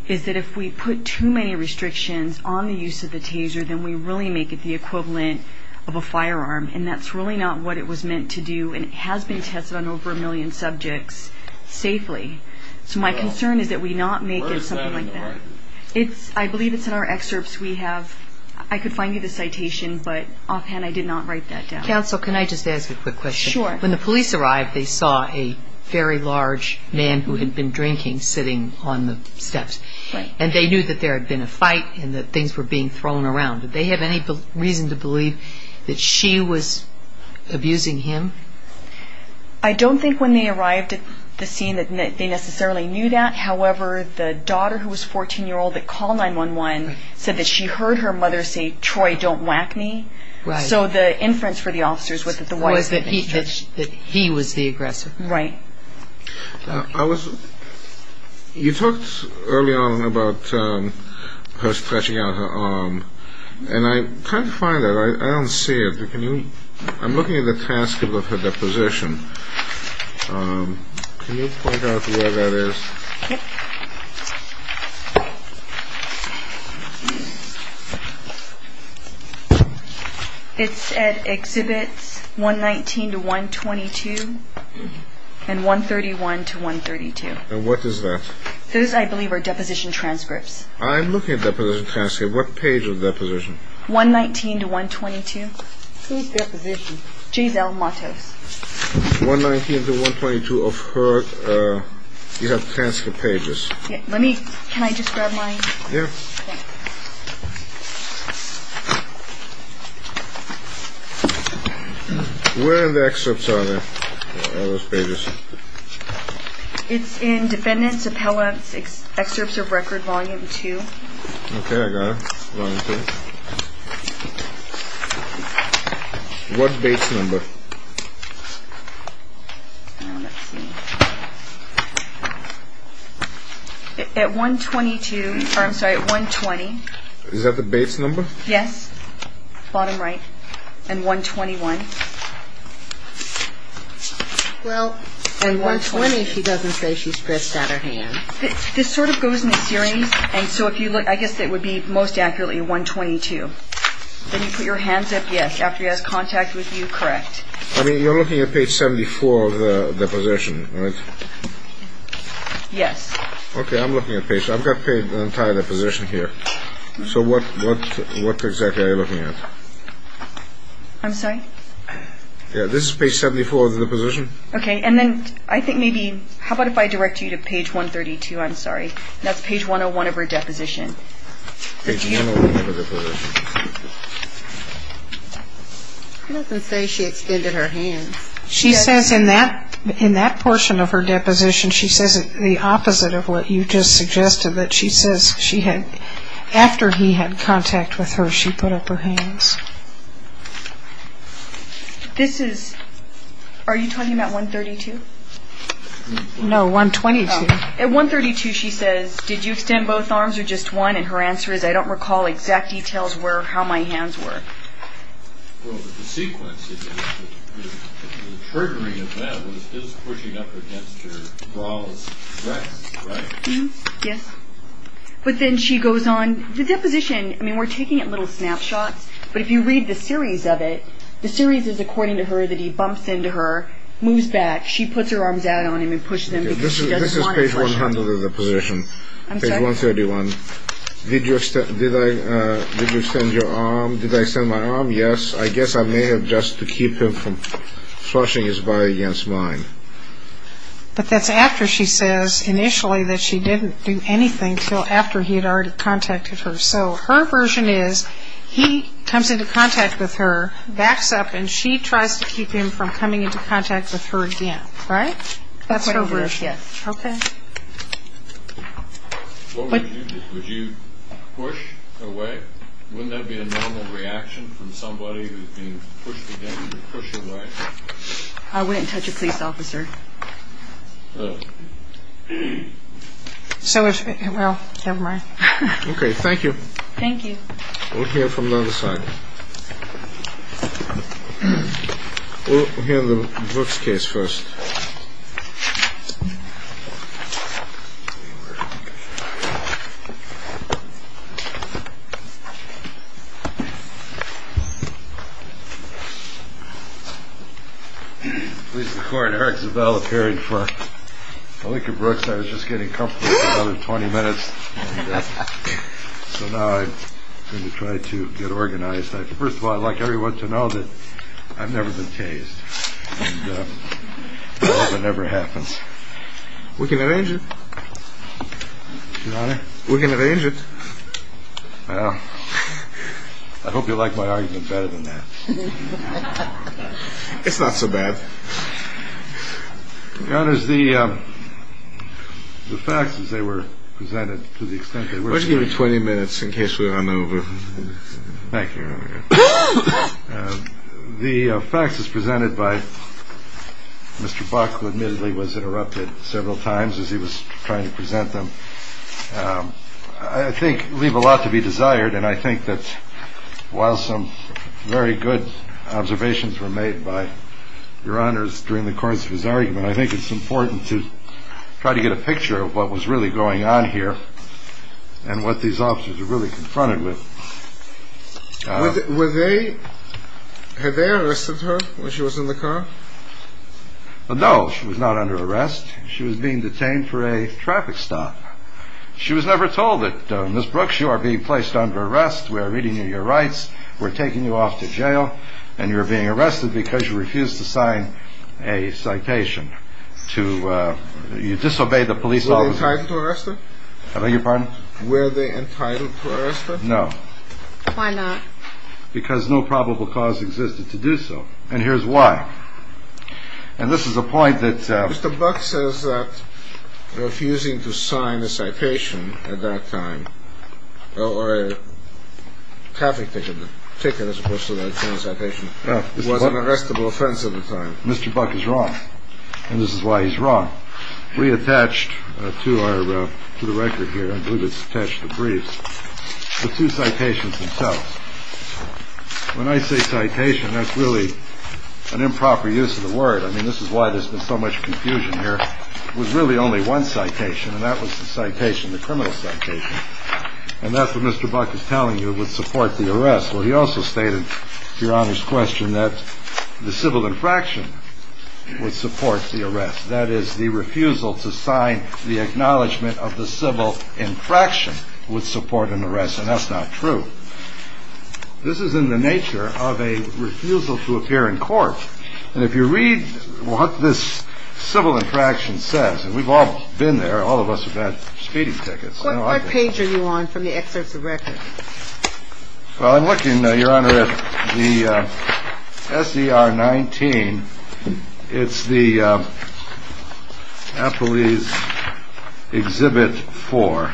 is that if we put too many restrictions on the use of the taser, then we really make it the equivalent of a firearm, and that's really not what it was meant to do, and it has been tested on over a million subjects safely. So my concern is that we not make it something like that. I believe it's in our excerpts we have. I could find you the citation, but offhand I did not write that down. Counsel, can I just ask you a quick question? Sure. When the police arrived, they saw a very large man who had been drinking sitting on the steps, and they knew that there had been a fight and that things were being thrown around. Did they have any reason to believe that she was abusing him? I don't think when they arrived at the scene that they necessarily knew that. However, the daughter, who was a 14-year-old, that called 911, said that she heard her mother say, Troy, don't whack me. So the inference for the officers was that he was the aggressor. Right. You talked early on about her stretching out her arm, and I can't find it. I don't see it, but I'm looking at the transcript of her deposition. Can you point out where that is? It's at Exhibits 119-122 and 131-132. And what is that? Those, I believe, are deposition transcripts. I'm looking at deposition transcripts. What page of deposition? 119-122. Who's deposition? Giselle Motte. 119-122 of her, you have transcript pages. Let me, can I just grab mine? Yeah. Where in the excerpts are those pages? It's in Defendant's Appellate Excerpts of Record, Volume 2. Okay, I got it. Volume 2. What base number? At 122, or I'm sorry, at 120. Is that the base number? Yes. Bottom right. And 121. Well, at 120 she doesn't say she stretched out her hand. This sort of goes in a series, and so if you look, I guess it would be most accurately 122. Then you put your hands up, yes, after you ask contact with you, correct. I mean, you're looking at page 74 of the deposition, right? Yes. Okay, I'm looking at page, I've got an entire deposition here. So what exactly are you looking at? I'm sorry? Yeah, this is page 74 of the deposition. Okay, and then I think maybe, how about if I direct you to page 132, I'm sorry. That's page 101 of her deposition. It doesn't say she extended her hand. She says in that portion of her deposition, she says it's the opposite of what you just suggested, that she says she had, after he had contact with her, she put up her hands. This is, are you talking about 132? No, 122. At 132 she says, did you extend both arms or just one? And her answer is, I don't recall exact details where or how my hands were. Well, but the sequence is, the pergaminate of that was still pushing up against your brawls, correct? Yes. But then she goes on, the deposition, I mean, we're taking a little snapshot, but if you read the series of it, the series is according to her that he bumps into her, moves back, she puts her arms out on him and pushes him because she doesn't want to touch him. This is page 100 of the deposition, page 131. Did you extend your arm? Did I extend my arm? Yes. I guess I may have just to keep him from thrashing his body against mine. But that's after she says initially that she didn't do anything until after he had already contacted her. So her version is, he comes into contact with her, backs up, and she tries to keep him from coming into contact with her again, right? That's her version. Okay. What would you do? Would you push away? Wouldn't that be a normal reaction from somebody who's being pushed again? Push away. I wouldn't touch a police officer. So if, well, never mind. Okay. Thank you. Thank you. We'll hear from the other side. We'll hear the Brooks case first. Please record Eric Zabell appearing for Malika Brooks. I was just getting comfortable for another 20 minutes, so now I'm going to try to get organized. First of all, I'd like everyone to know that I've never been cased. That never happens. We can arrange it. We can arrange it. I hope you like my argument better than that. It's not so bad. Your Honor, the facts as they were presented, to the extent that we're able to. We'll give you 20 minutes in case we run over. Thank you. The facts as presented by Mr. Buck, who admittedly was interrupted several times as he was trying to present them, I think leave a lot to be desired, and I think that while some very good observations were made by Your Honors during the course of his argument, I think it's important to try to get a picture of what was really going on here and what these officers were really confronted with. Were they, had they arrested her when she was in the car? No, she was not under arrest. She was being detained for a traffic stop. She was never told that, Ms. Brooks, you are being placed under arrest. We are reading you your rights. We're taking you off to jail, and you're being arrested because you refused to sign a citation. You disobeyed the police orders. Were they entitled to arrest her? I beg your pardon? Were they entitled to arrest her? No. Why not? Because no probable cause existed to do so, and here's why. And this is the point that... Mr. Buck says that refusing to sign a citation at that time, or a traffic ticket as opposed to signing a citation, was an arrestable offense at the time. Mr. Buck is wrong, and this is why he's wrong. We attached to the record here, I believe it's attached to the brief, the two citations themselves. When I say citation, that's really an improper use of the word. I mean, this is why there's been so much confusion here. It was really only one citation, and that was the citation, the criminal citation. And that's what Mr. Buck is telling you would support the arrest. Well, he also stated, to Your Honor's question, that the civil infraction would support the arrest. That is, the refusal to sign the acknowledgment of the civil infraction would support an arrest, and that's not true. This is in the nature of a refusal to appear in court. And if you read what this civil infraction says, and we've all been there, all of us have had speeding tickets. What page are you on from the excerpt of the record? Well, I'm looking, Your Honor, at the S.E.R. 19. It's the Appellee's Exhibit 4,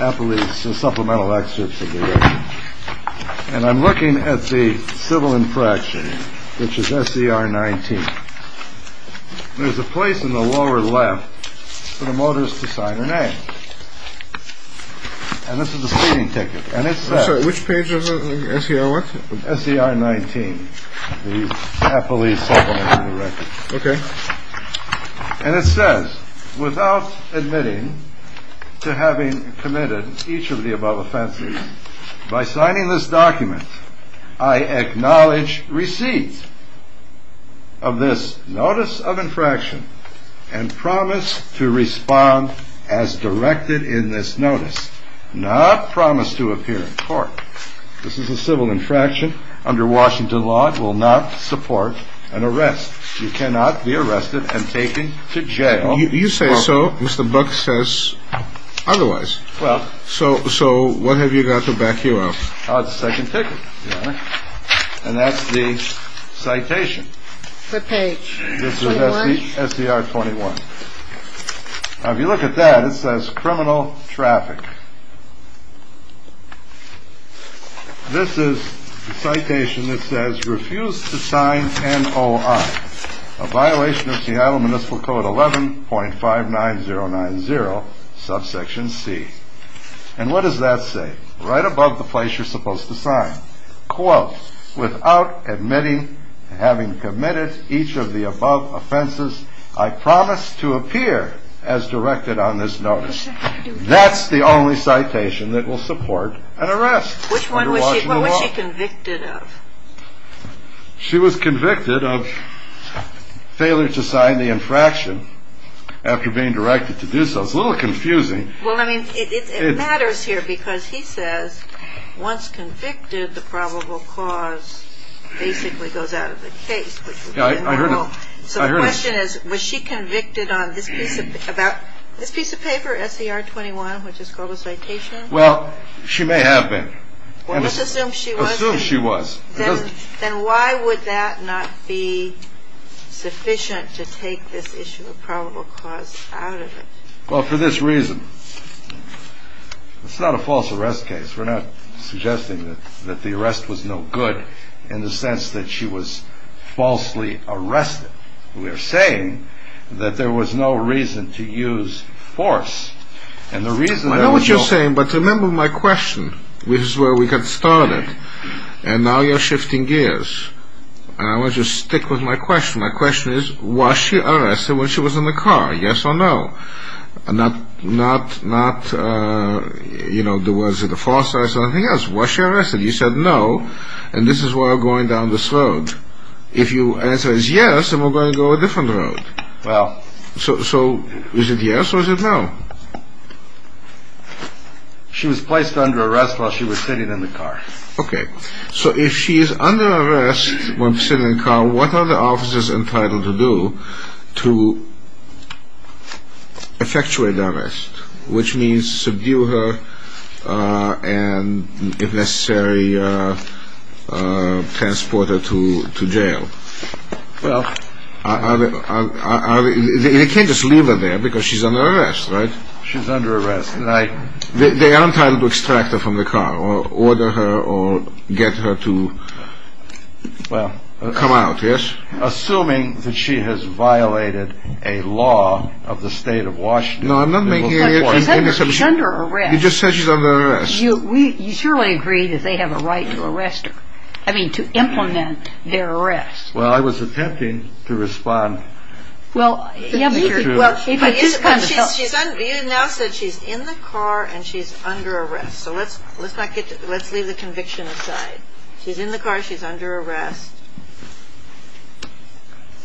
Appellee's Supplemental Exhibit 4. And I'm looking at the civil infraction, which is S.E.R. 19. There's a place in the lower left for the motorist to sign her name. And this is a speeding ticket. I'm sorry, which page of the S.E.R. works? S.E.R. 19, the Appellee's Supplemental Record. Okay. And it says, without admitting to having committed each of the above offenses, by signing this document, I acknowledge receipt of this notice of infraction and promise to respond as directed in this notice, not promise to appear in court. This is a civil infraction. Under Washington law, it will not support an arrest. You cannot be arrested and taken to jail. You say so, but the book says otherwise. So what have you got to back you up? A second ticket, Your Honor. And that's the citation. What page? This is S.E.R. 21. Now, if you look at that, it says criminal traffic. This is the citation that says refuse to sign NOI, a violation of Seattle Municipal Code 11.59090, subsection C. And what does that say? Right above the place you're supposed to sign. Quote, without admitting to having committed each of the above offenses, I promise to appear as directed on this notice. That's the only citation that will support an arrest. Which one was she convicted of? She was convicted of failure to sign the infraction after being directed to do so. It's a little confusing. Well, I mean, it matters here because he says once convicted, the probable cause basically goes out of its face. So the question is, was she convicted on this piece of paper, S.E.R. 21, which is called a citation? Well, she may have been. Let's assume she was. Let's assume she was. Then why would that not be sufficient to take this issue of probable cause out of it? Well, for this reason. It's not a false arrest case. We're not suggesting that the arrest was no good in the sense that she was falsely arrested. We are saying that there was no reason to use force. I know what you're saying, but remember my question. This is where we got started. And now you're shifting gears. I want you to stick with my question. My question is, was she arrested when she was in the car? Yes or no? Not, you know, was it a false arrest or anything else? Was she arrested? You said no. And this is why we're going down this road. If your answer is yes, then we're going to go a different road. So is it yes or is it no? She was placed under arrest while she was sitting in the car. Okay. So if she is under arrest while sitting in the car, what are the officers entitled to do to effectuate the arrest, which means subdue her and, if necessary, transport her to jail? Well... They can't just leave her there because she's under arrest, right? She's under arrest. They aren't entitled to extract her from the car or order her or get her to come out, yes? Assuming that she has violated a law of the state of Washington. No, I'm not making any assumptions. She's under arrest. You just said she's under arrest. You surely agree that they have a right to arrest her. I mean, to implement their arrest. Well, I was attempting to respond. Well, if she's in the car and she's under arrest. So let's leave the conviction aside. She's in the car. She's under arrest.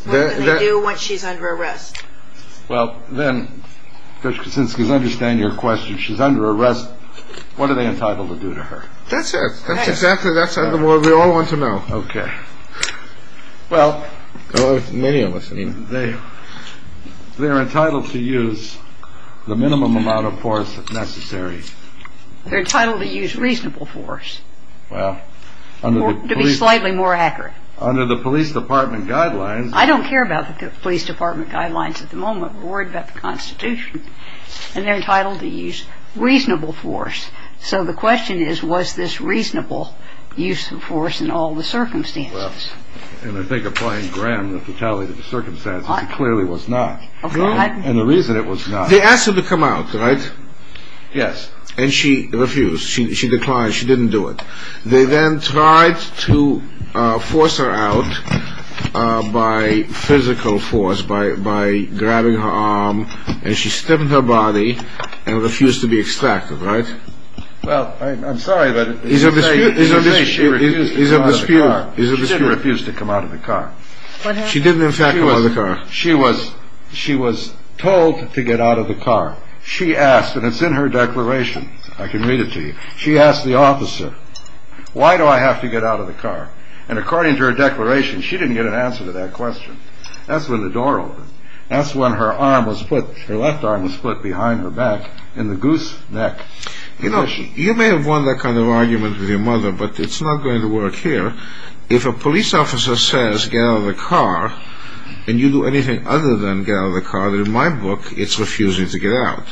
What do they do when she's under arrest? Well, then, since we understand your question, she's under arrest. What are they entitled to do to her? That's exactly what we all want to know. Okay. Well, they're entitled to use the minimum amount of force necessary. They're entitled to use reasonable force. To be slightly more accurate. Under the police department guidelines. I don't care about the police department guidelines at the moment. We're worried about the Constitution. And they're entitled to use reasonable force. So the question is, was this reasonable use of force in all the circumstances? Well, and I think applying Graham the fatality of the circumstances, it clearly was not. And the reason it was not. They asked her to come out, right? Yes. And she refused. She declined. She didn't do it. They then tried to force her out by physical force, by grabbing her arm. And she stiffened her body and refused to be extracted, right? Well, I'm sorry, but you say she refused to come out of the car. She did refuse to come out of the car. She didn't, in fact, come out of the car. She was told to get out of the car. She asked, and it's in her declaration. I can read it to you. She asked the officer, why do I have to get out of the car? And according to her declaration, she didn't get an answer to that question. That's when the door opened. That's when her arm was put, her left arm was put behind her back in the goose neck. You know, you may have won that kind of argument with your mother, but it's not going to work here. If a police officer says, get out of the car, and you do anything other than get out of the car, in my book, it's refusing to get out.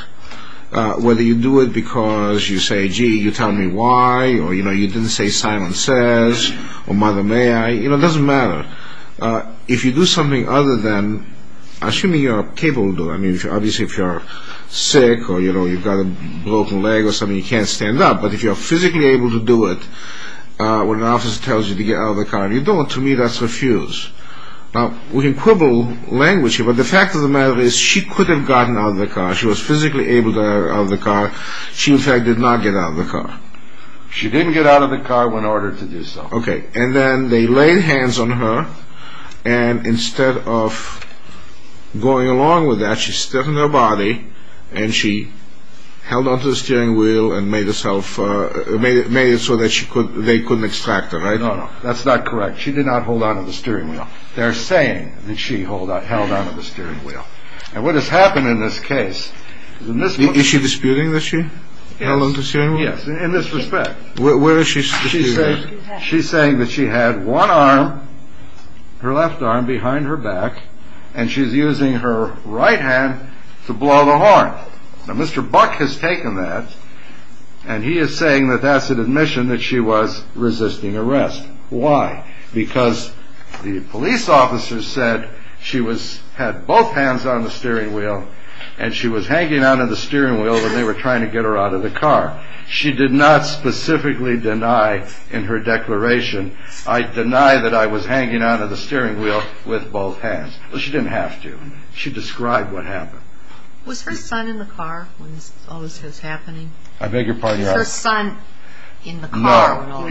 Whether you do it because you say, gee, you tell me why, or you know, you didn't say Simon Says, or Mother May I, you know, it doesn't matter. If you do something other than, assuming you're capable of doing it, I mean, obviously if you're sick, or you've got a broken leg or something, you can't stand up, but if you're physically able to do it when an officer tells you to get out of the car, you don't. To me, that's refuse. Now, we can quibble language here, but the fact of the matter is she could have gotten out of the car. She was physically able to get out of the car. She, in fact, did not get out of the car. She didn't get out of the car when ordered to do so. Okay, and then they laid hands on her, and instead of going along with that, she stepped on her body, and she held on to the steering wheel and made herself, made it so that they couldn't extract her, right? No, no, that's not correct. She did not hold on to the steering wheel. They're saying that she held on to the steering wheel. And what has happened in this case, in this case... Is she disputing that she held on to the steering wheel? Yes, in this respect. Where is she disputing this? She's saying that she had one arm, her left arm, behind her back, and she's using her right hand to blow the horn. Now, Mr. Buck has taken that, and he is saying that that's an admission that she was resisting arrest. Why? Because the police officer said she had both hands on the steering wheel, and she was hanging on to the steering wheel when they were trying to get her out of the car. She did not specifically deny in her declaration, I deny that I was hanging on to the steering wheel with both hands. She didn't have to. She described what happened. Was her son in the car when all this was happening? I beg your pardon, yes. Was her son in the car? No.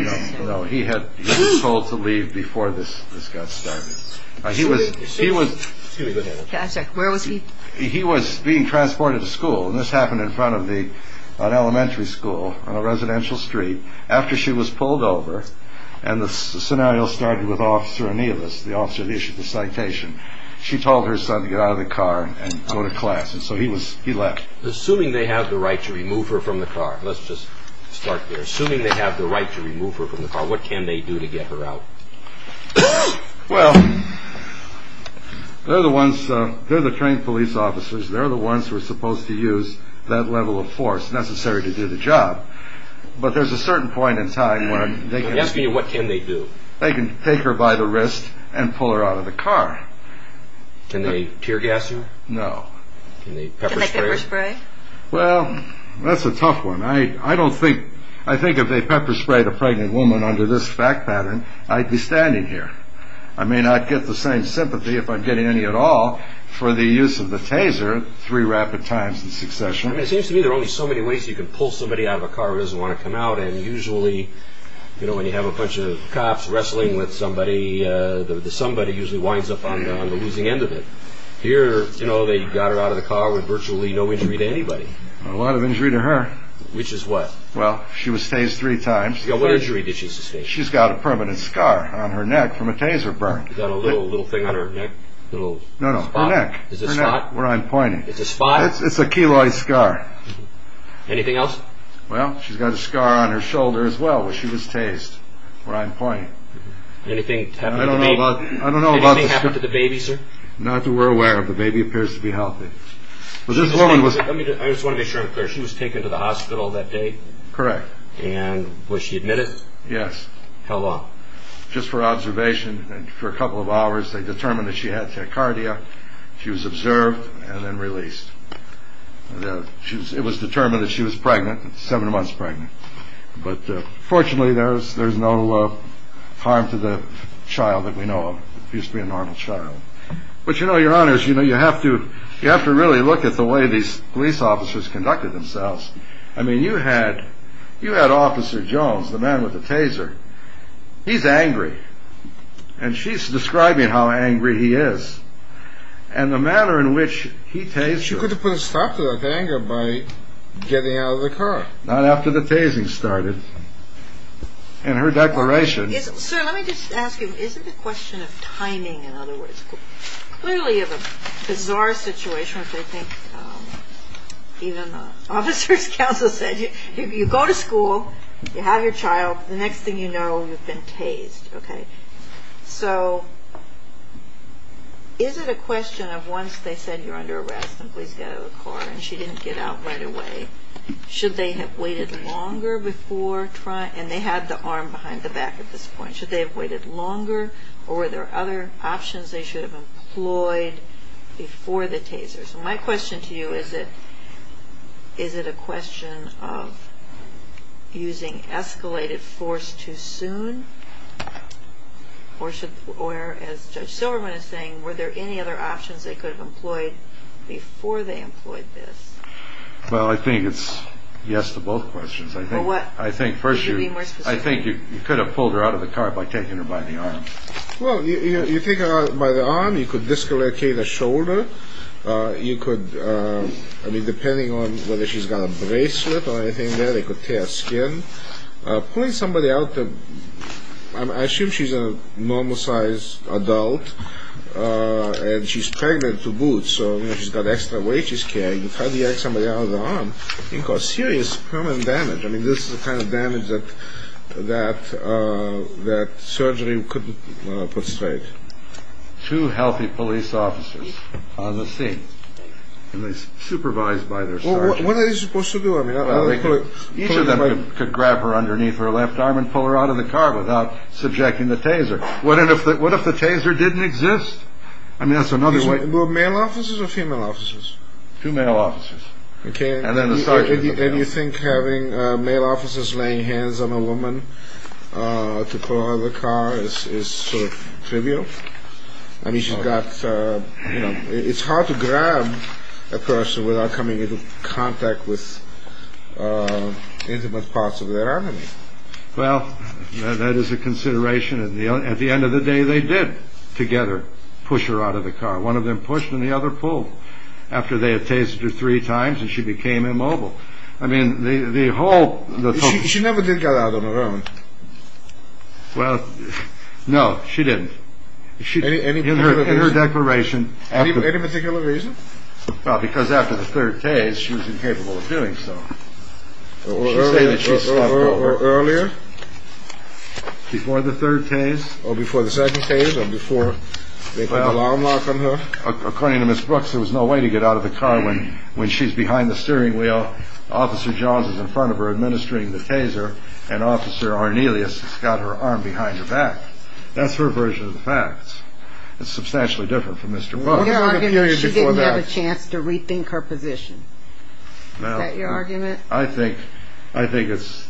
No, he had been told to leave before this got started. He was... Excuse me. Where was he? He was being transported to school, and this happened in front of an elementary school on a residential street, after she was pulled over, and the scenario started with Officer Nielus, the officer that issued the citation. She told her son to get out of the car and go to class, and so he left. Assuming they have the right to remove her from the car, let's just start there. Assuming they have the right to remove her from the car, what can they do to get her out? Well, they're the ones, they're the trained police officers. They're the ones who are supposed to use that level of force necessary to do the job. But there's a certain point in time when they can... Ask me, what can they do? They can take her by the wrist and pull her out of the car. Can they tear gas her? No. Can they pepper spray her? Can they pepper spray? Well, that's a tough one. I don't think... I think if they pepper sprayed a pregnant woman under this fact pattern, I'd be standing here. I may not get the same sympathy, if I'm getting any at all, for the use of the taser three rapid times in succession. It seems to me there are only so many ways you can pull somebody out of a car who doesn't want to come out, and usually, you know, when you have a bunch of cops wrestling with somebody, the somebody usually winds up on them and they lose the end of it. Here, you know, they got her out of the car with virtually no injury to anybody. A lot of injury to her. Which is what? Well, she was tased three times. What injury did she sustain? She's got a permanent scar on her neck from a taser burn. Is that a little thing on her neck? No, no, her neck. Is it a spot? Where I'm pointing. Is it a spot? It's a keloid scar. Anything else? Well, she's got a scar on her shoulder as well, where she was tased, where I'm pointing. Anything happen to the baby? I don't know about the... Anything happen to the baby, sir? Not that we're aware of. The baby appears to be healthy. I just want to make sure I'm clear. She was taken to the hospital that day? Correct. And was she admitted? Yes. Held up. Just for observation and for a couple of hours they determined that she had tachycardia. She was observed and then released. It was determined that she was pregnant, seven months pregnant. But fortunately there's no harm to the child that we know of. Used to be a normal child. But you know, your honors, you have to really look at the way these police officers conducted themselves. I mean, you had Officer Jones, the man with the taser. He's angry. And she's describing how angry he is. And the manner in which he tased her... She could have put a stop to that anger by getting out of the car. Not after the tasing started. In her declaration... Sir, let me just ask you, is it a question of timing in other words? Clearly it's a bizarre situation, which I think even the officer's counsel said. If you go to school, you have your child, the next thing you know you've been tased, okay? So is it a question of once they said you're under arrest and released out of the car and she didn't get out right away, should they have waited longer before trying... And they have the arm behind the back at this point. Should they have waited longer or were there other options they should have employed before the taser? So my question to you is, is it a question of using escalated force too soon? Or as Judge Silverman is saying, were there any other options they could have employed before they employed this? Well, I think it's yes to both questions. I think you could have pulled her out of the car by taking her by the arm. Well, you take her out by the arm. You could dis-correct her shoulder. You could, I mean, depending on whether she's got a bracelet or anything there, they could tear her skin. Pulling somebody out, I assume she's a normal-sized adult and she's pregnant to boot, so she's got extra weight she's carrying. If you try to yank somebody out of their arm, you cause serious permanent damage. I mean, this is the kind of damage that surgery couldn't put straight. Two healthy police officers on the scene, supervised by their surgeons. Well, what are they supposed to do? Each of them could grab her underneath her left arm and pull her out of the car without subjecting the taser. What if the taser didn't exist? Were there male officers or female officers? Two male officers. And you think having male officers laying hands on a woman to pull her out of the car is sort of trivial? I mean, it's hard to grab a person without coming into contact with intimate parts of their arm. Well, that is a consideration. At the end of the day, they did, together, push her out of the car. One of them pushed and the other pulled. After they had tasered her three times, she became immobile. I mean, the whole... She never did get out of her arm. Well, no, she didn't. In her declaration... Any particular reason? Well, because after the third tase, she was incapable of doing so. Earlier? Before the third tase? Or before the second tase, or before they put the alarm off on her? According to Ms. Brooks, there was no way to get out of the car when she's behind the steering wheel, Officer Johns is in front of her administering the taser, and Officer Arnelius has got her arm behind her back. That's her version of the facts. It's substantially different from Mr. Brooks. What are your arguments that she didn't have a chance to rethink her position? Your argument? I think it's,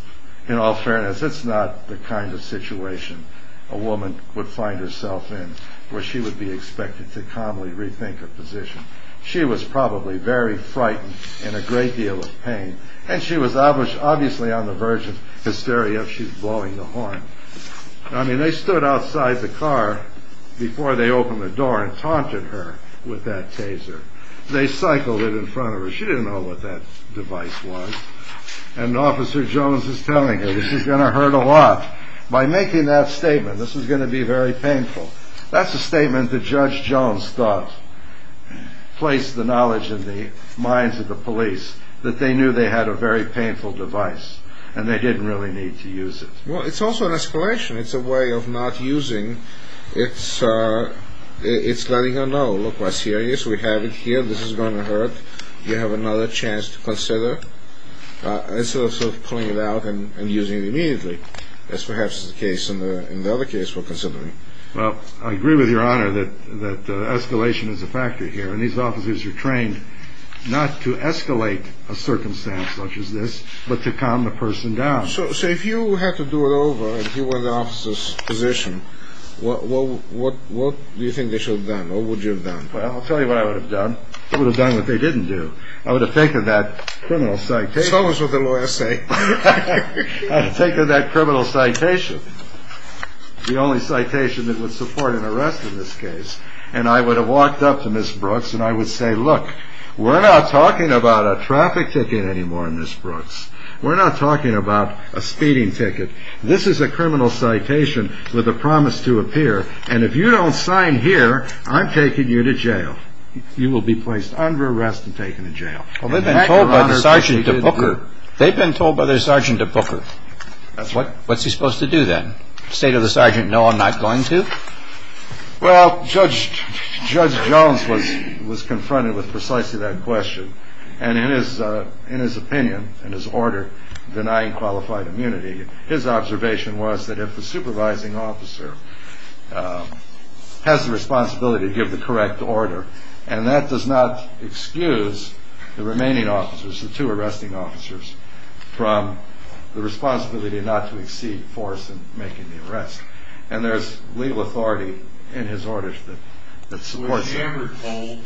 in all fairness, it's not the kind of situation a woman would find herself in, where she would be expected to calmly rethink her position. She was probably very frightened and in a great deal of pain, and she was obviously on the verge of hysteria if she's blowing the horn. I mean, they stood outside the car before they opened the door and taunted her with that taser. They cycled it in front of her. She didn't know what that device was, and Officer Johns is telling her, this is going to hurt a lot. By making that statement, this is going to be very painful. That's a statement that Judge Johns thought placed the knowledge in the minds of the police, that they knew they had a very painful device, and they didn't really need to use it. Well, it's also an escalation. It's a way of not using. It's letting her know, look, we're serious. We have it here. This is going to hurt. You have another chance to consider. It's sort of pulling it out and using it immediately, as perhaps is the case in the other case we're considering. Well, I agree with Your Honor that escalation is a factor here, and these officers are trained not to escalate a circumstance such as this, but to calm the person down. So if you had to do it over, if you were the officer's position, what do you think they should have done? What would you have done? Well, I'll tell you what I would have done. I would have done what they didn't do. I would have taken that criminal citation. Show us what the lawyers say. I would have taken that criminal citation, the only citation that would support an arrest in this case, and I would have walked up to Ms. Brooks and I would say, look, we're not talking about a traffic ticket anymore, Ms. Brooks. We're not talking about a speeding ticket. This is a criminal citation with a promise to appear, and if you don't sign here, I'm taking you to jail. You will be placed under arrest and taken to jail. They've been told by their sergeant to book her. What's he supposed to do then? Say to the sergeant, no, I'm not going to? Well, Judge Jones was confronted with precisely that question, and in his opinion, in his order denying qualified immunity, his observation was that if the supervising officer has the responsibility to give the correct order, and that does not excuse the remaining officers, the two arresting officers, from the responsibility not to exceed the force in making the arrest, and there's legal authority in his orders that supports that. Was she ever told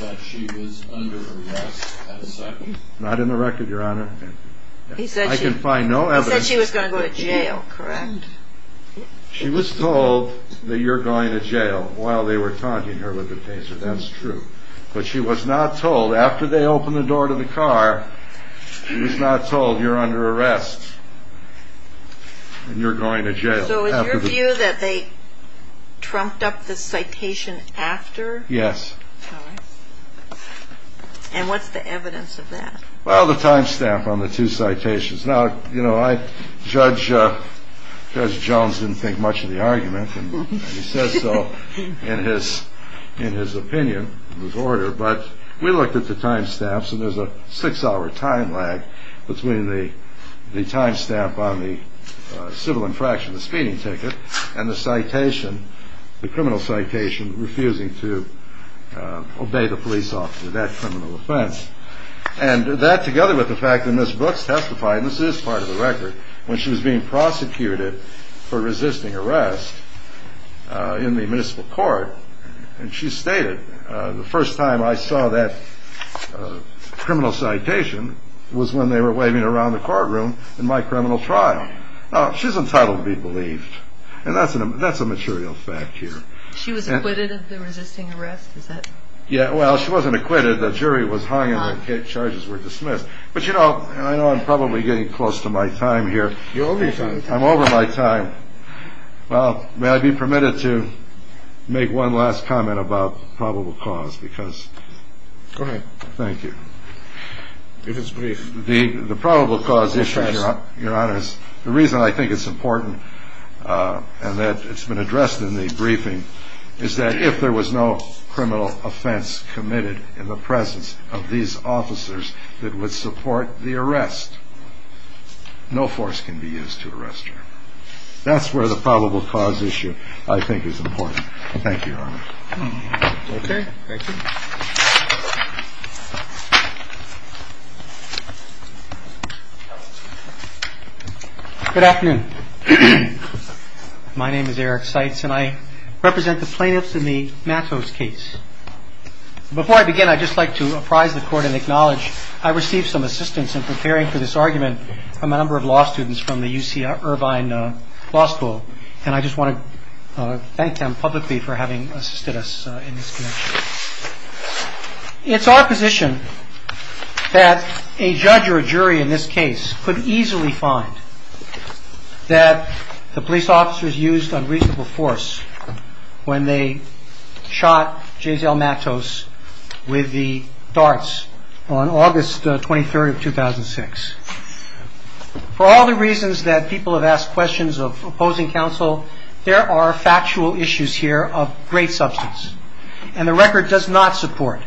that she was under arrest at the time? Not in the record, Your Honor. I can find no evidence. He said she was going to go to jail, correct? She was told that you're going to jail while they were taunting her with the cases. That's true. But she was not told, after they opened the door to the car, she was not told you're under arrest and you're going to jail. So is your view that they trumped up the citation after? Yes. And what's the evidence of that? Well, the time stamp on the two citations. Now, you know, Judge Jones didn't think much of the argument, and he says so in his opinion, in his order, but we looked at the time stamps and there's a six-hour time lag between the time stamp on the civil infraction of the speeding ticket and the citation, the criminal citation, refusing to obey the police officer, that criminal offense. And that, together with the fact that Ms. Brooks testified, and this is part of the record, when she was being prosecuted for resisting arrest in the municipal court, and she stated, the first time I saw that criminal citation was when they were waving it around the courtroom in my criminal tribe. Now, she's entitled to be believed, and that's a material fact here. She was acquitted of the resisting arrest? Yeah, well, she wasn't acquitted. The jury was hung and the charges were dismissed. But, you know, I know I'm probably getting close to my time here. You're over your time. I'm over my time. Well, may I be permitted to make one last comment about probable cause? Go ahead. Thank you. The probable cause issue, Your Honors, the reason I think it's important and that it's been addressed in the briefing, is that if there was no criminal offense committed in the presence of these officers that would support the arrest, no force can be used to arrest her. That's where the probable cause issue, I think, is important. Thank you, Your Honors. Okay. Thank you. Good afternoon. My name is Eric Seitz, and I represent the plaintiffs in the Mathos case. Before I begin, I'd just like to apprise the court and acknowledge I received some assistance in preparing for this argument from a number of law students from the UC Irvine Law School, and I just want to thank them publicly for having assisted us in this connection. It's our position that a judge or a jury in this case could easily find that the police officers used unreasonable force when they shot Gisele Mathos with the darts on August 23, 2006. For all the reasons that people have asked questions of opposing counsel, there are factual issues here of great substance, and the record does not support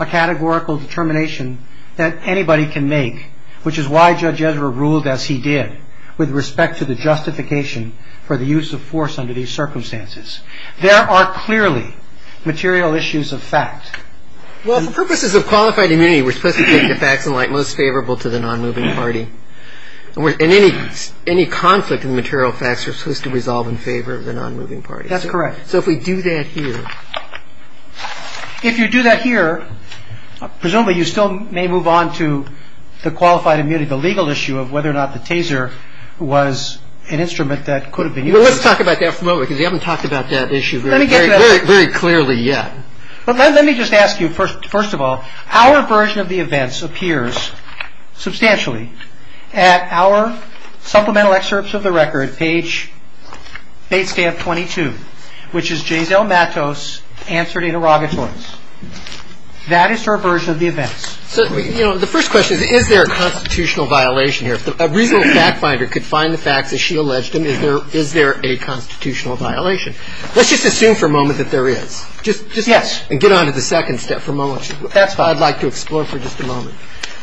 a categorical determination that anybody can make, which is why Judge Ezra ruled as he did, with respect to the justification for the use of force under these circumstances. There are clearly material issues of fact. Well, for purposes of qualified immunity, we're supposed to give the facts in light most favorable to the nonmoving party. And any conflict in the material facts are supposed to resolve in favor of the nonmoving party. That's correct. So, if we do that here. If you do that here, presumably you still may move on to the qualified immunity, the legal issue of whether or not the taser was an instrument that could have been used. Let's talk about that for a moment, because we haven't talked about that issue very clearly yet. Let me just ask you, first of all, our version of the events appears substantially at our supplemental excerpts of the record, page 22, which is J. Delmatos answered a derogatory. That is our version of the events. The first question is, is there a constitutional violation here? A reasonable fact finder could find the fact that she alleged, and is there a constitutional violation? Let's just assume for a moment that there is. Yes. And get on to the second step for a moment. I'd like to explore for just a moment.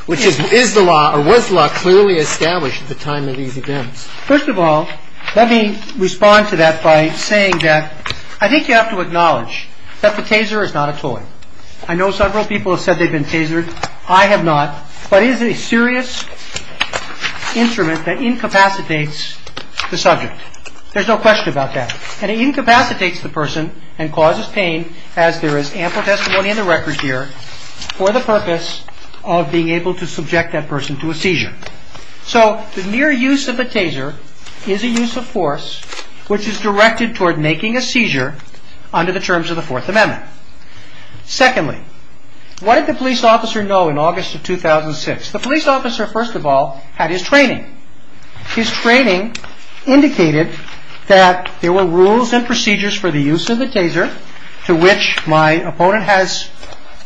Which is, is the law, or was the law clearly established at the time of these events? First of all, let me respond to that by saying, Jeff, I think you have to acknowledge that the taser is not a toy. I know several people have said they've been tasered. I have not. But it is a serious instrument that incapacitates the subject. There's no question about that. And it incapacitates the person and causes pain, as there is ample testimony in the record here, for the purpose of being able to subject that person to a seizure. So, the mere use of the taser is a use of force which is directed toward making a seizure under the terms of the Fourth Amendment. Secondly, what did the police officer know in August of 2006? The police officer, first of all, had his training. His training indicated that there were rules and procedures for the use of the taser, to which my opponent has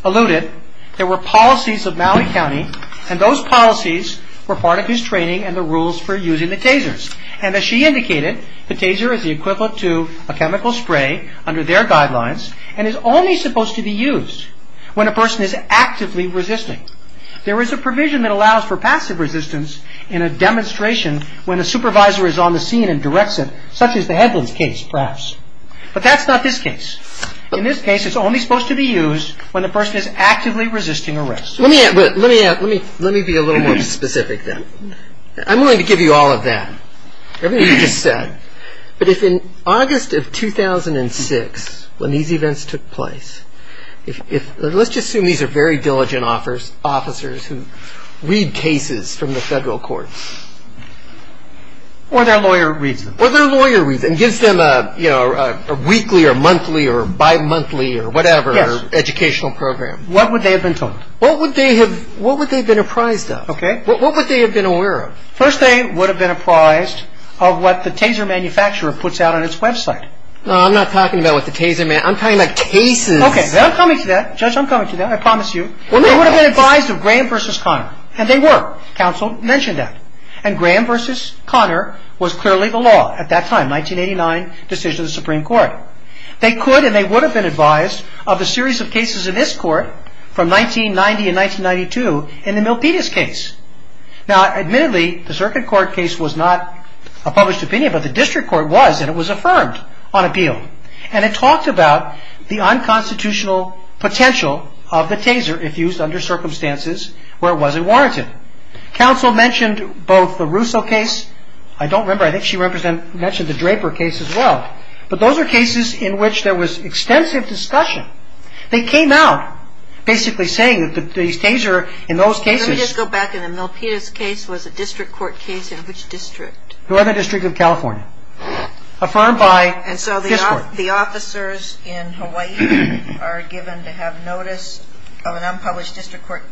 alluded. He indicated that there were policies of Maui County, and those policies were part of his training and the rules for using the tasers. And as she indicated, the taser is the equivalent to a chemical spray, under their guidelines, and is only supposed to be used when a person is actively resisting. There is a provision that allows for passive resistance in a demonstration when a supervisor is on the scene and directs it, such as the Headlands case, perhaps. But that's not his case. In this case, it's only supposed to be used when a person is actively resisting arrest. Let me be a little more specific then. I'm willing to give you all of that. But if in August of 2006, when these events took place, let's just assume these are very diligent officers who read cases from the federal courts. Or their lawyer reads them. And gives them a weekly or monthly or bimonthly or whatever educational program. What would they have been told? What would they have been apprised of? Okay. What would they have been aware of? First, they would have been apprised of what the taser manufacturer puts out on its website. I'm not talking about what the taser manufacturer, I'm talking about cases. Okay. I'm coming to that. Judge, I'm coming to that. I promise you. They would have been advised of Graham v. Conner. And they were. Counsel mentioned that. And Graham v. Conner was clearly the law at that time. 1989 decision of the Supreme Court. They could and they would have been advised of a series of cases in this court from 1990 and 1992 in the Milpitas case. Now, admittedly, the circuit court case was not a published opinion. But the district court was. And it was affirmed on appeal. And it talked about the unconstitutional potential of the taser if used under circumstances where it wasn't warranted. Counsel mentioned both the Russo case. I don't remember. I think she mentioned the Draper case as well. But those are cases in which there was extensive discussion. They came out basically saying that the taser in those cases- Let me just go back. In the Milpitas case was a district court case in which district? 11th District of California. Affirmed by this court. And so the officers in Hawaii are given to have notice of an unpublished district court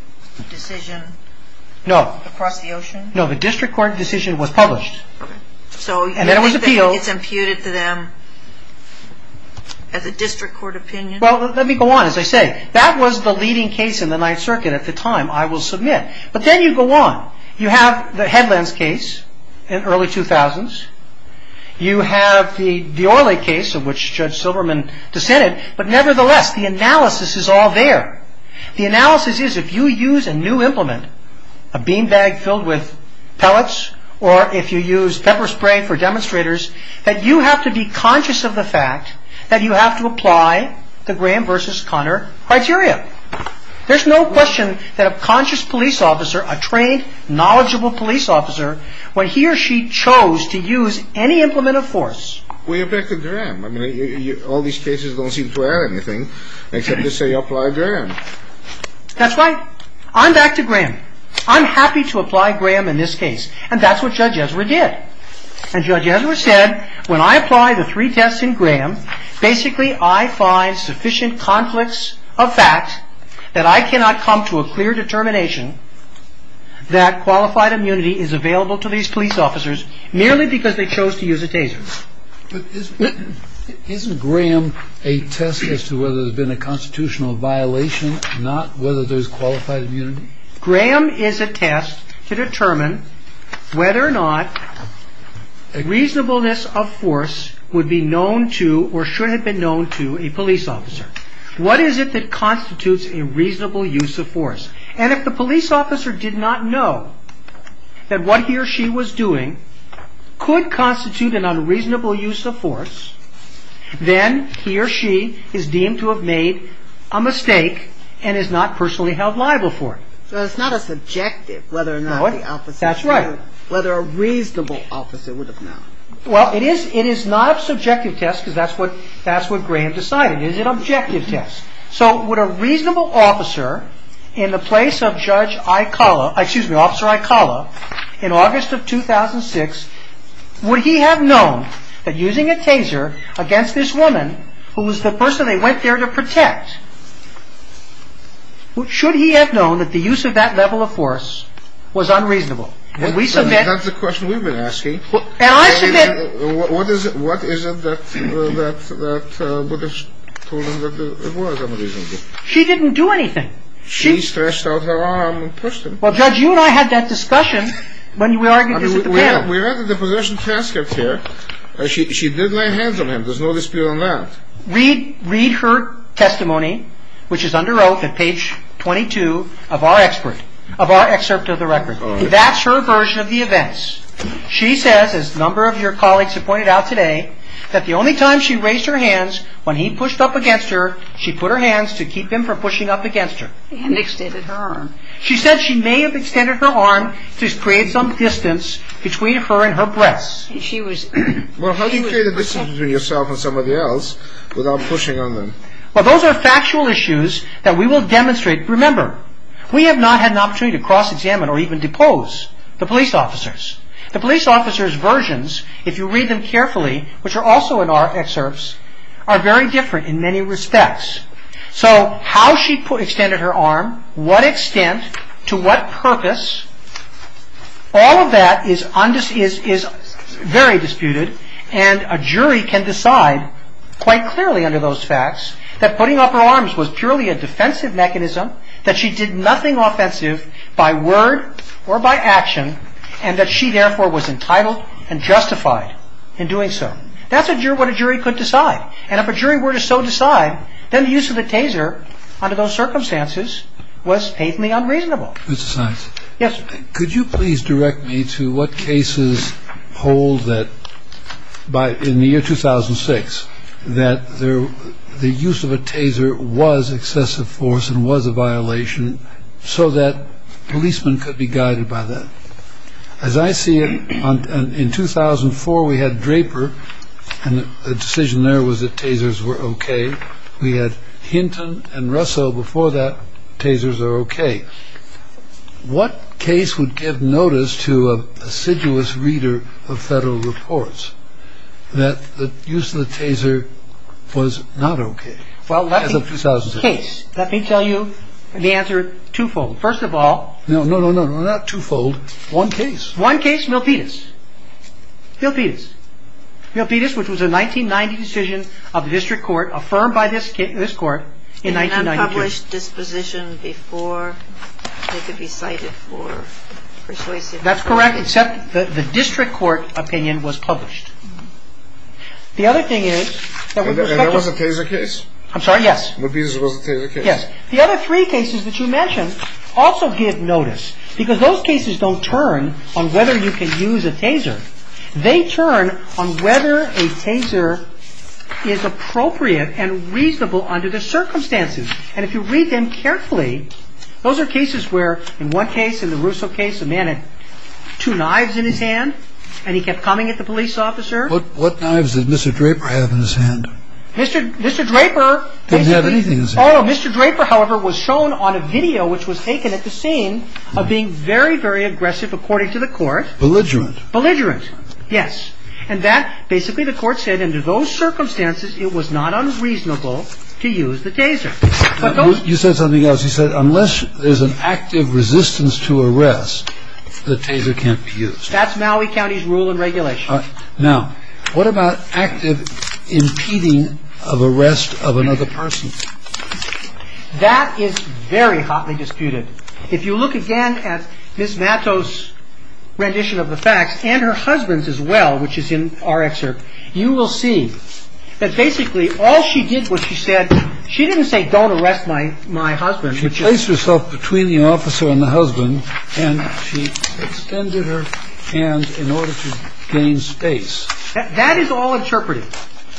decision across the ocean? No, the district court decision was published. And there was appeal. So it's imputed to them as a district court opinion? Well, let me go on. As I say, that was the leading case in the Ninth Circuit at the time. I will submit. But then you go on. You have the Headlands case in early 2000s. You have the D'Orly case in which Judge Silverman dissented. But nevertheless, the analysis is all there. The analysis is if you use a new implement, a bean bag filled with pellets, or if you use pepper spray for demonstrators, that you have to be conscious of the fact that you have to apply the Graham v. Conner criteria. There's no question that a conscious police officer, a trained, knowledgeable police officer, when he or she chose to use any implement of force... Well, you're back to Graham. I mean, all these cases don't seem to add anything except to say apply Graham. That's right. I'm back to Graham. I'm happy to apply Graham in this case. And that's what Judge Ezra did. And Judge Ezra said, when I apply the three tests in Graham, basically I find sufficient conflicts of fact that I cannot come to a clear determination that qualified immunity is available to these police officers merely because they chose to use a Taser. Isn't Graham a test as to whether there's been a constitutional violation, not whether there's qualified immunity? No. Graham is a test to determine whether or not a reasonableness of force would be known to, or should have been known to, a police officer. What is it that constitutes a reasonable use of force? And if the police officer did not know that what he or she was doing could constitute an unreasonable use of force, then he or she is deemed to have made a mistake and is not personally held liable for it. So it's not a subjective whether or not the officer would have known. That's right. Whether a reasonable officer would have known. Well, it is not a subjective test because that's what Graham decided. It is an objective test. So would a reasonable officer in the place of Officer Aikala in August of 2006, would he have known that using a Taser against this woman, who was the person they went there to protect, should he have known that the use of that level of force was unreasonable? That's the question we've been asking. What is it that the British told him that it was unreasonable? She didn't do anything. She stretched out her arm and pushed him. Well, Judge, you and I had that discussion when we argued this at the trial. We argued the position of transcript here. She did lay hands on him. There's no dispute on that. Read her testimony, which is under oath, at page 22 of our excerpt of the record. That's her version of the events. She said, as a number of your colleagues have pointed out today, that the only time she raised her hands when he pushed up against her, she put her hands to keep him from pushing up against her. She said she may have extended her arm to create some distance between her and her breasts. Well, how do you create a distance between yourself and somebody else without pushing on them? Well, those are factual issues that we will demonstrate. Remember, we have not had an opportunity to cross-examine or even depose the police officers. The police officers' versions, if you read them carefully, which are also in our excerpts, are very different in many respects. So, how she extended her arm, what extent, to what purpose, all of that is very disputed, and a jury can decide, quite clearly under those facts, that putting up her arms was purely a defensive mechanism, that she did nothing offensive by word or by action, and that she, therefore, was entitled and justified in doing so. That's what a jury could decide. And if a jury were to so decide, then the use of a taser under those circumstances was patently unreasonable. Yes. Could you please direct me to what cases hold that by in the year 2006, that the use of a taser was excessive force and was a violation so that policemen could be guided by that? As I see it, in 2004, we had Draper and the decision there was that tasers were OK. We had Hinton and Russo before that, tasers are OK. What case would give notice to a assiduous reader of federal reports that the use of a taser was not OK? Well, let me tell you the answer twofold. First of all... No, no, no, no, not twofold. One case. One case, Milpitas. Milpitas. Milpitas, which was a 1990 decision of the district court, affirmed by this court in 1992. That's correct, except the district court opinion was published. The other thing is... And that was a taser case? I'm sorry, yes. Milpitas was a taser case. Yes. The other three cases that you mentioned also get notice, because those cases don't turn on whether you can use a taser. They turn on whether a taser is appropriate and reasonable under the circumstances. And if you read them carefully, those are cases where in one case, in the Russo case, a man had two knives in his hand and he kept coming at the police officer. What knives did Mr. Draper have in his hand? Mr. Draper... He didn't have anything in his hand. Mr. Draper, however, was shown on a video which was taken at the scene of being very, very aggressive, according to the court. Belligerent. Belligerent, yes. And that... Basically, the court said under those circumstances, it was not unreasonable to use the taser. But those... You said something else. You said unless there's an active resistance to arrest, the taser can't be used. That's Maui County's rule and regulation. Now, what about active impeding of arrest of another person? That is very hotly disputed. If you look again at Ms. Natto's rendition of the facts and her husband's as well, which is in our excerpt, you will see that basically all she did was she said... She didn't say, don't arrest my husband. She placed herself between the officer and the husband and she extended her hand in order to gain space. That is all interpreted.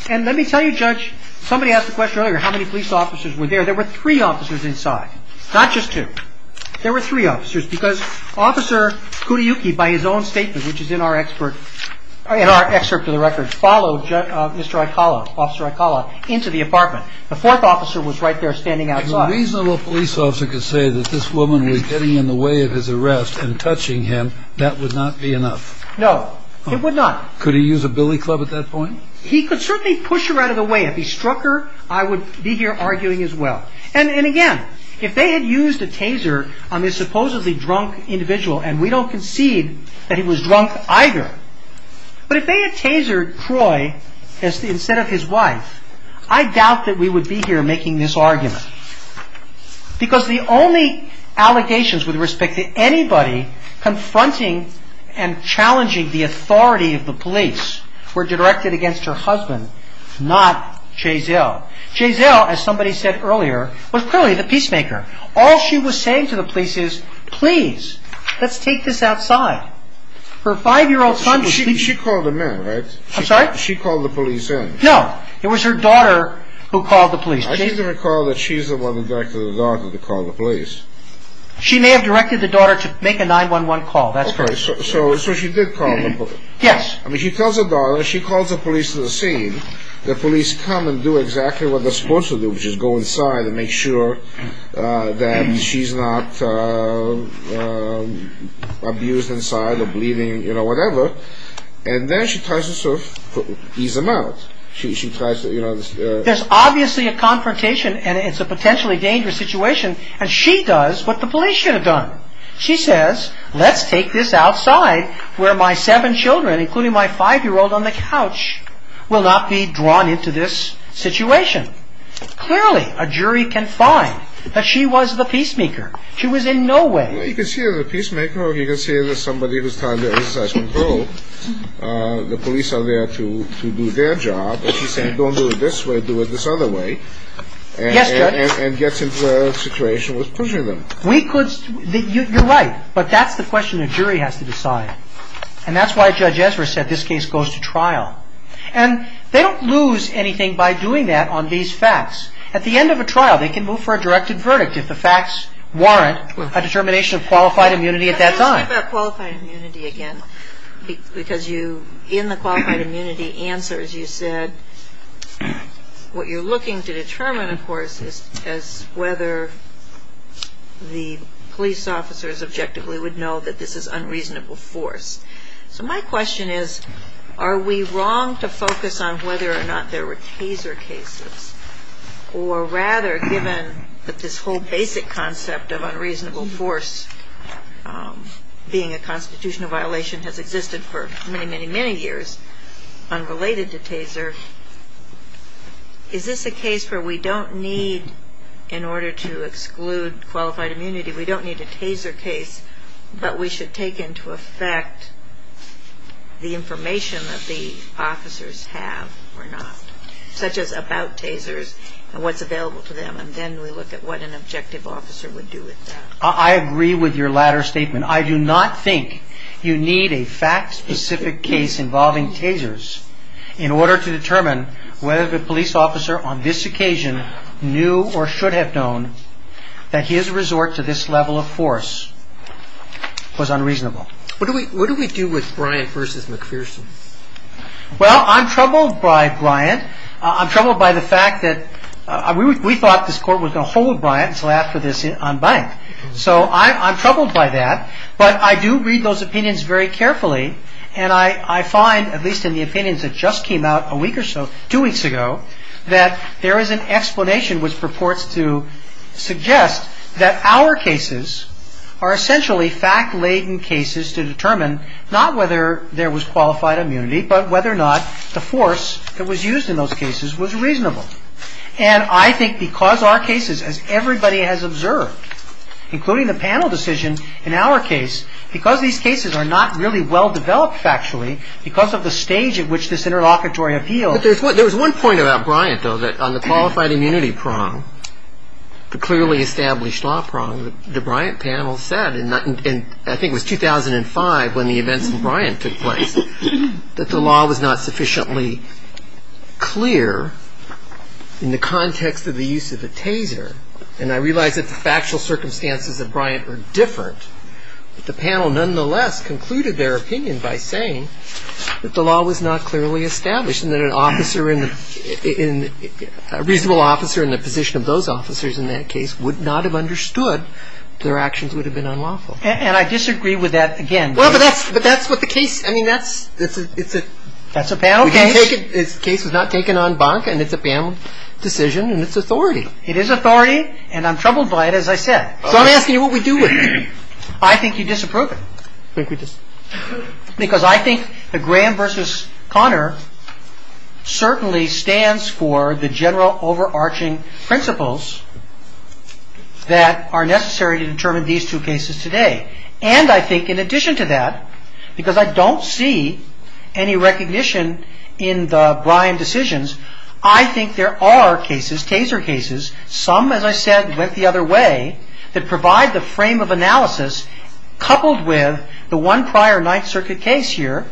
And let me tell you, Judge, somebody asked the question earlier how many police officers were there. There were three officers inside, not just two. There were three officers because Officer Kudayuki, by his own statement, which is in our excerpt to the record, followed Mr. Aikala, Officer Aikala, into the apartment. The fourth officer was right there standing outside. A reasonable police officer could say that this woman was getting in the way of his arrest and touching him. That would not be enough. No, it would not. Could he use a billy club at that point? He could certainly push her out of the way. If he struck her, I would be here arguing as well. And again, if they had used a taser on this supposedly drunk individual, and we don't concede that he was drunk either, but if they had tasered Croy instead of his wife, I doubt that we would be here making this argument. Because the only allegations with respect to anybody confronting and challenging the authority of the police were directed against her husband, not Chazelle. Chazelle, as somebody said earlier, was clearly the peacemaker. All she was saying to the police is, please, let's take this outside. Her five-year-old son was... She called the men, right? I'm sorry? She called the police in. No, it was her daughter who called the police. I need to recall that she is the one who directed the daughter to call the police. She may have directed the daughter to make a 911 call, that's correct. So she did call the police. Yes. I mean, she calls the police to the scene, the police come and do exactly what they're supposed to do, which is go inside and make sure that she's not abused inside or bleeding, you know, whatever. And then she tries to sort of ease them out. She tries to, you know... There's obviously a confrontation, and it's a potentially dangerous situation, and she does what the police should have done. She says, let's take this outside where my seven children, including my five-year-old on the couch, will not be drawn into this situation. Clearly, a jury can find that she was the peacemaker. She was in no way... Well, you can see there's a peacemaker, or you can see there's somebody who's trying to exercise control. The police are there to do their job, and she's saying, don't do it this way, do it this other way. Yes, Judge. And gets into a situation with pushing them. We could... You're right, but that's the question the jury has to decide. And that's why Judge Ezra said this case goes to trial. And they don't lose anything by doing that on these facts. At the end of a trial, they can move for a directed verdict if the facts warrant a determination of qualified immunity at that time. What's that qualified immunity again? Because you, in the qualified immunity answers, you said, what you're looking to determine, of course, is whether the police officers objectively would know that this is unreasonable force. So my question is, are we wrong to focus on whether or not there were taser cases? Or rather, given that this whole basic concept of unreasonable force being a constitutional violation has existed for many, many, many years, unrelated to taser, is this a case where we don't need, in order to exclude qualified immunity, we don't need a taser case, but we should take into effect the information that the officers have or not? Such as about tasers and what's available to them. And then we look at what an objective officer would do with that. I agree with your latter statement. I do not think you need a fact-specific case involving tasers in order to determine whether the police officer on this occasion knew or should have known that his resort to this level of force was unreasonable. What do we do with Bryant versus McPherson? Well, I'm troubled by Bryant. I'm troubled by the fact that we thought this court was going to hold Bryant until after this on bank. So I'm troubled by that. But I do read those opinions very carefully. And I find, at least in the opinions that just came out a week or so, two weeks ago, that there is an explanation which purports to suggest that our cases are essentially fact-laden cases to determine not whether there was qualified immunity, but whether or not the force that was used in those cases was reasonable. And I think because our cases, as everybody has observed, including the panel decision in our case, because these cases are not really well-developed factually, because of the stage at which this interlocutory appeal... There was one point about Bryant, though, that on the qualified immunity prong, the clearly established law prong, the Bryant panel said, and I think it was 2005 when the events in Bryant took place, that the law was not sufficiently clear in the context of the use of a taser. And I realize that the factual circumstances of Bryant were different. But the panel, nonetheless, concluded their opinion by saying that the law was not clearly established and that a reasonable officer in the position of those officers in that case would not have understood that their actions would have been unlawful. And I disagree with that again. Well, but that's what the case... That's a panel case. This case is not taken en banc, and it's a panel decision, and it's authority. It is authority, and I'm troubled by it, as I said. Don't ask me what we do with it. I think you disapprove of it. Because I think the Graham versus Conner certainly stands for the general overarching principles that are necessary to determine these two cases today. And I think in addition to that, because I don't see any recognition in the Bryant decisions, I think there are cases, taser cases, some, as I said, went the other way, that provide the frame of analysis coupled with the one prior Ninth Circuit case here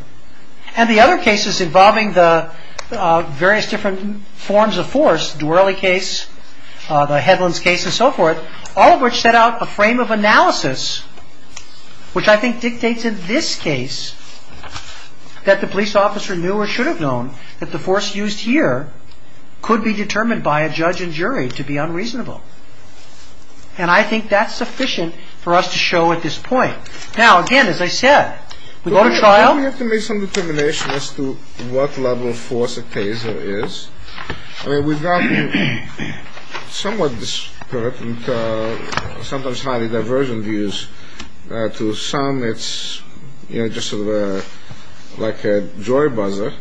and the other cases involving the various different forms of force, the Dworley case, the Headlands case, and so forth, all of which set out a frame of analysis which I think dictated this case, that the police officer knew or should have known that the force used here could be determined by a judge and jury to be unreasonable. And I think that's sufficient for us to show at this point. Now, again, as I said, we go to trial. We have to make some determination as to what level of force a taser is. We've got somewhat disparate and sometimes highly divergent views. To some, it's just sort of like a joy buzzer.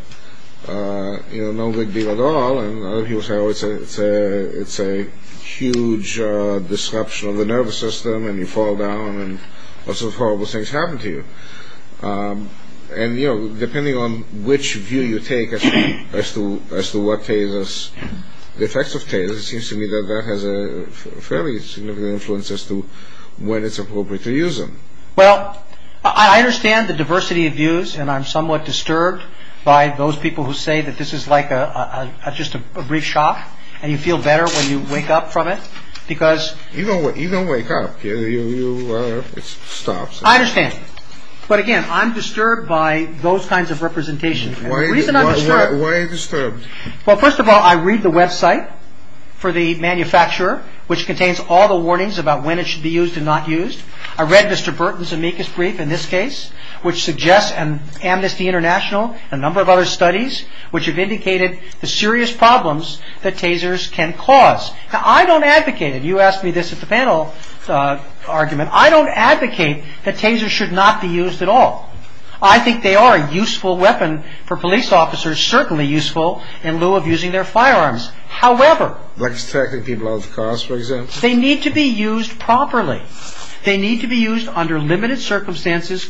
No big deal at all. It's a huge disruption of the nervous system, and you fall down, and all sorts of horrible things happen to you. And, you know, depending on which view you take as to what tasers, the effects of tasers seems to me that that has a fairly significant influence as to when it's appropriate to use them. Well, I understand the diversity of views, and I'm somewhat disturbed by those people who say that this is like just a brief shock, and you feel better when you wake up from it, because... You don't wake up. It stops. I understand. But, again, I'm disturbed by those kinds of representations. Why are you disturbed? Well, first of all, I read the website for the manufacturer, which contains all the warnings about when it should be used and not used. I read Mr. Burton's amicus brief in this case, which suggests Amnesty International, a number of other studies, which have indicated the serious problems that tasers can cause. Now, I don't advocate, and you asked me this at the panel argument, I don't advocate that tasers should not be used at all. I think they are a useful weapon for police officers, certainly useful in lieu of using their firearms. However... Which technically blows cars, for example? They need to be used properly. They need to be used under limited circumstances,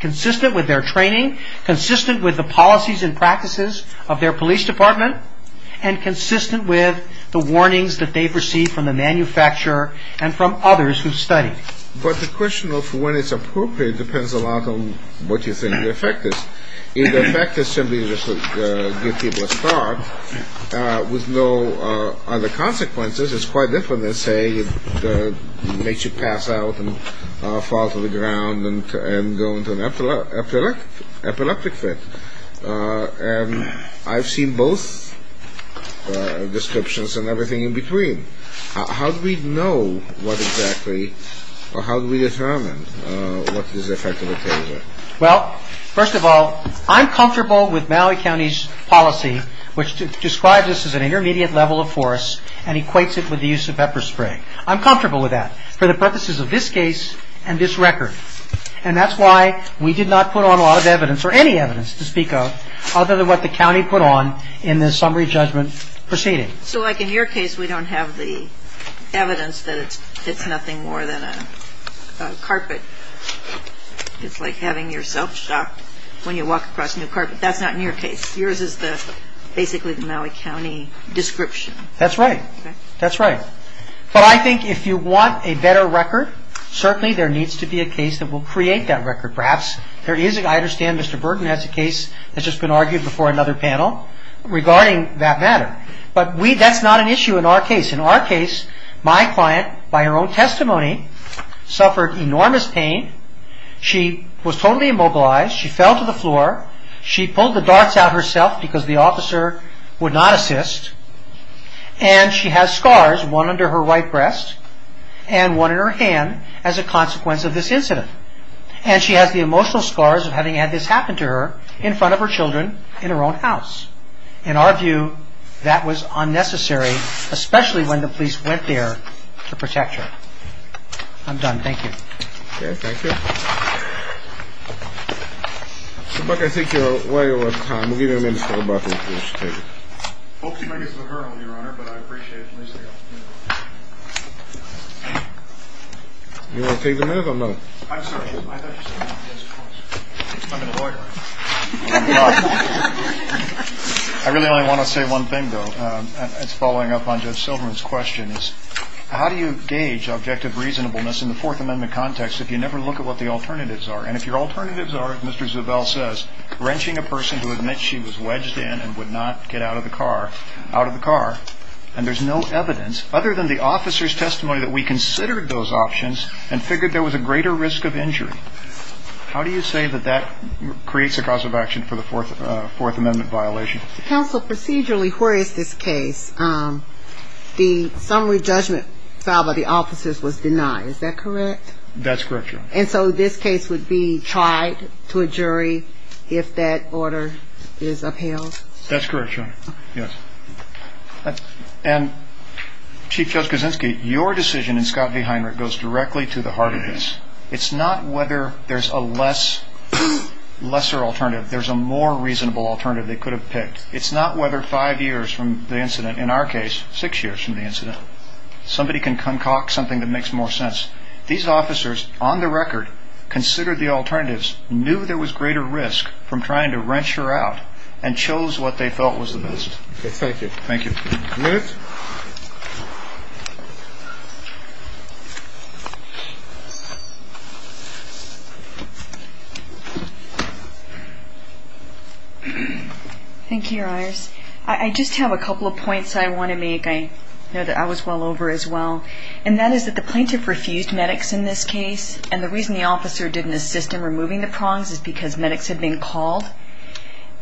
consistent with their training, consistent with the policies and practices of their police department, and consistent with the warnings that they've received from the manufacturer and from others who study. But the question of when it's appropriate depends a lot on what you think the effect is. If the effect is simply to give people a start, with no other consequences, it's quite different than saying it makes you pass out and fall to the ground and go into an epileptic fit. And I've seen both descriptions and everything in between. How do we know what exactly, or how do we determine what is the effect of a taser? Well, first of all, I'm comfortable with Mallory County's policy, which describes this as an intermediate level of force and equates it with the use of pepper spray. I'm comfortable with that for the purposes of this case and this record. And that's why we did not put on a lot of evidence, or any evidence to speak of, other than what the county put on in the summary judgment proceeding. So, like, in your case, we don't have the evidence that it's nothing more than a carpet. It's like having yourself shoved when you walk across a new carpet. That's not in your case. Yours is basically the Mallory County description. That's right. That's right. But I think if you want a better record, certainly there needs to be a case that will create that record, perhaps. I understand Mr. Burton has a case that's just been argued before another panel regarding that matter. But that's not an issue in our case. In our case, my client, by her own testimony, suffered enormous pain. She was totally immobilized. She fell to the floor. She pulled the darts out herself because the officer would not assist. And she has scars, one under her right breast and one in her hand, as a consequence of this incident. And she has the emotional scars of having had this happen to her in front of her children in her own house. In our view, that was unnecessary, especially when the police went there to protect her. I'm done. Thank you. Okay. Thank you. Mr. Buck, I think you're way over time. We'll give you a minute to go back and finish your statement. Hopefully, you don't need to put her on, Your Honor, but I appreciate it. You want to take the minute or not? I'm sorry. I thought you were going to ask a question. I'm a lawyer. I really only want to say one thing, though. It's following up on Judge Silverman's question. How do you gauge objective reasonableness in the Fourth Amendment context if you never look at what the alternatives are? And if your alternatives are, as Mr. Zubel says, wrenching a person who admits she was wedged in and would not get out of the car, and there's no evidence other than the officer's testimony that we considered those options and figured there was a greater risk of injury, how do you say that that creates a cause of action for the Fourth Amendment violation? Counsel, procedurally, where is this case? The summary judgment filed by the officers was denied. Is that correct? That's correct, Your Honor. And so this case would be tried to a jury if that order is upheld? That's correct, Your Honor. Yes. And Chief Judge Kuczynski, your decision in Scott v. Heiner goes directly to the heart of this. It's not whether there's a lesser alternative. There's a more reasonable alternative they could have picked. It's not whether five years from the incident. In our case, six years from the incident. Somebody can concoct something that makes more sense. These officers, on the record, considered the alternatives, knew there was greater risk from trying to wrench her out, and chose what they felt was the best. Thank you. Thank you. You have five minutes. Thank you, Your Honor. I just have a couple of points I want to make. I know that I was well over as well. And that is that the plaintiff refused medics in this case, and the reason the officer didn't assist in removing the prongs is because medics had been called,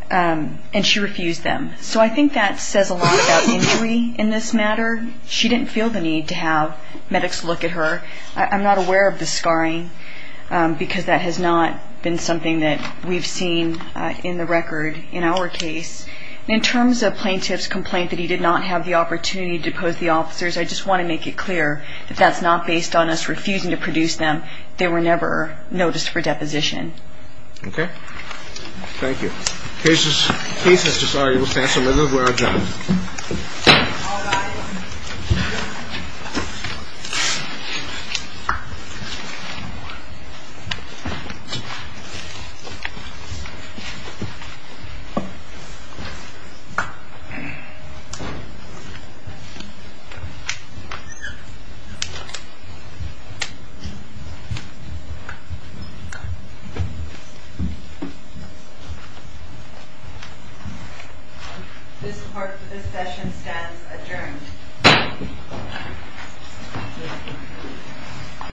and she refused them. So I think that says a lot about injury in this matter. She didn't feel the need to have medics look at her. I'm not aware of the scarring because that has not been something that we've seen in the record in our case. In terms of plaintiff's complaint that he did not have the opportunity to pose the officers, I just want to make it clear that that's not based on us refusing to produce them. They were never noticed for deposition. Okay. Thank you. The case has just argued to pass, and this is where I jump. This part of the session has adjourned.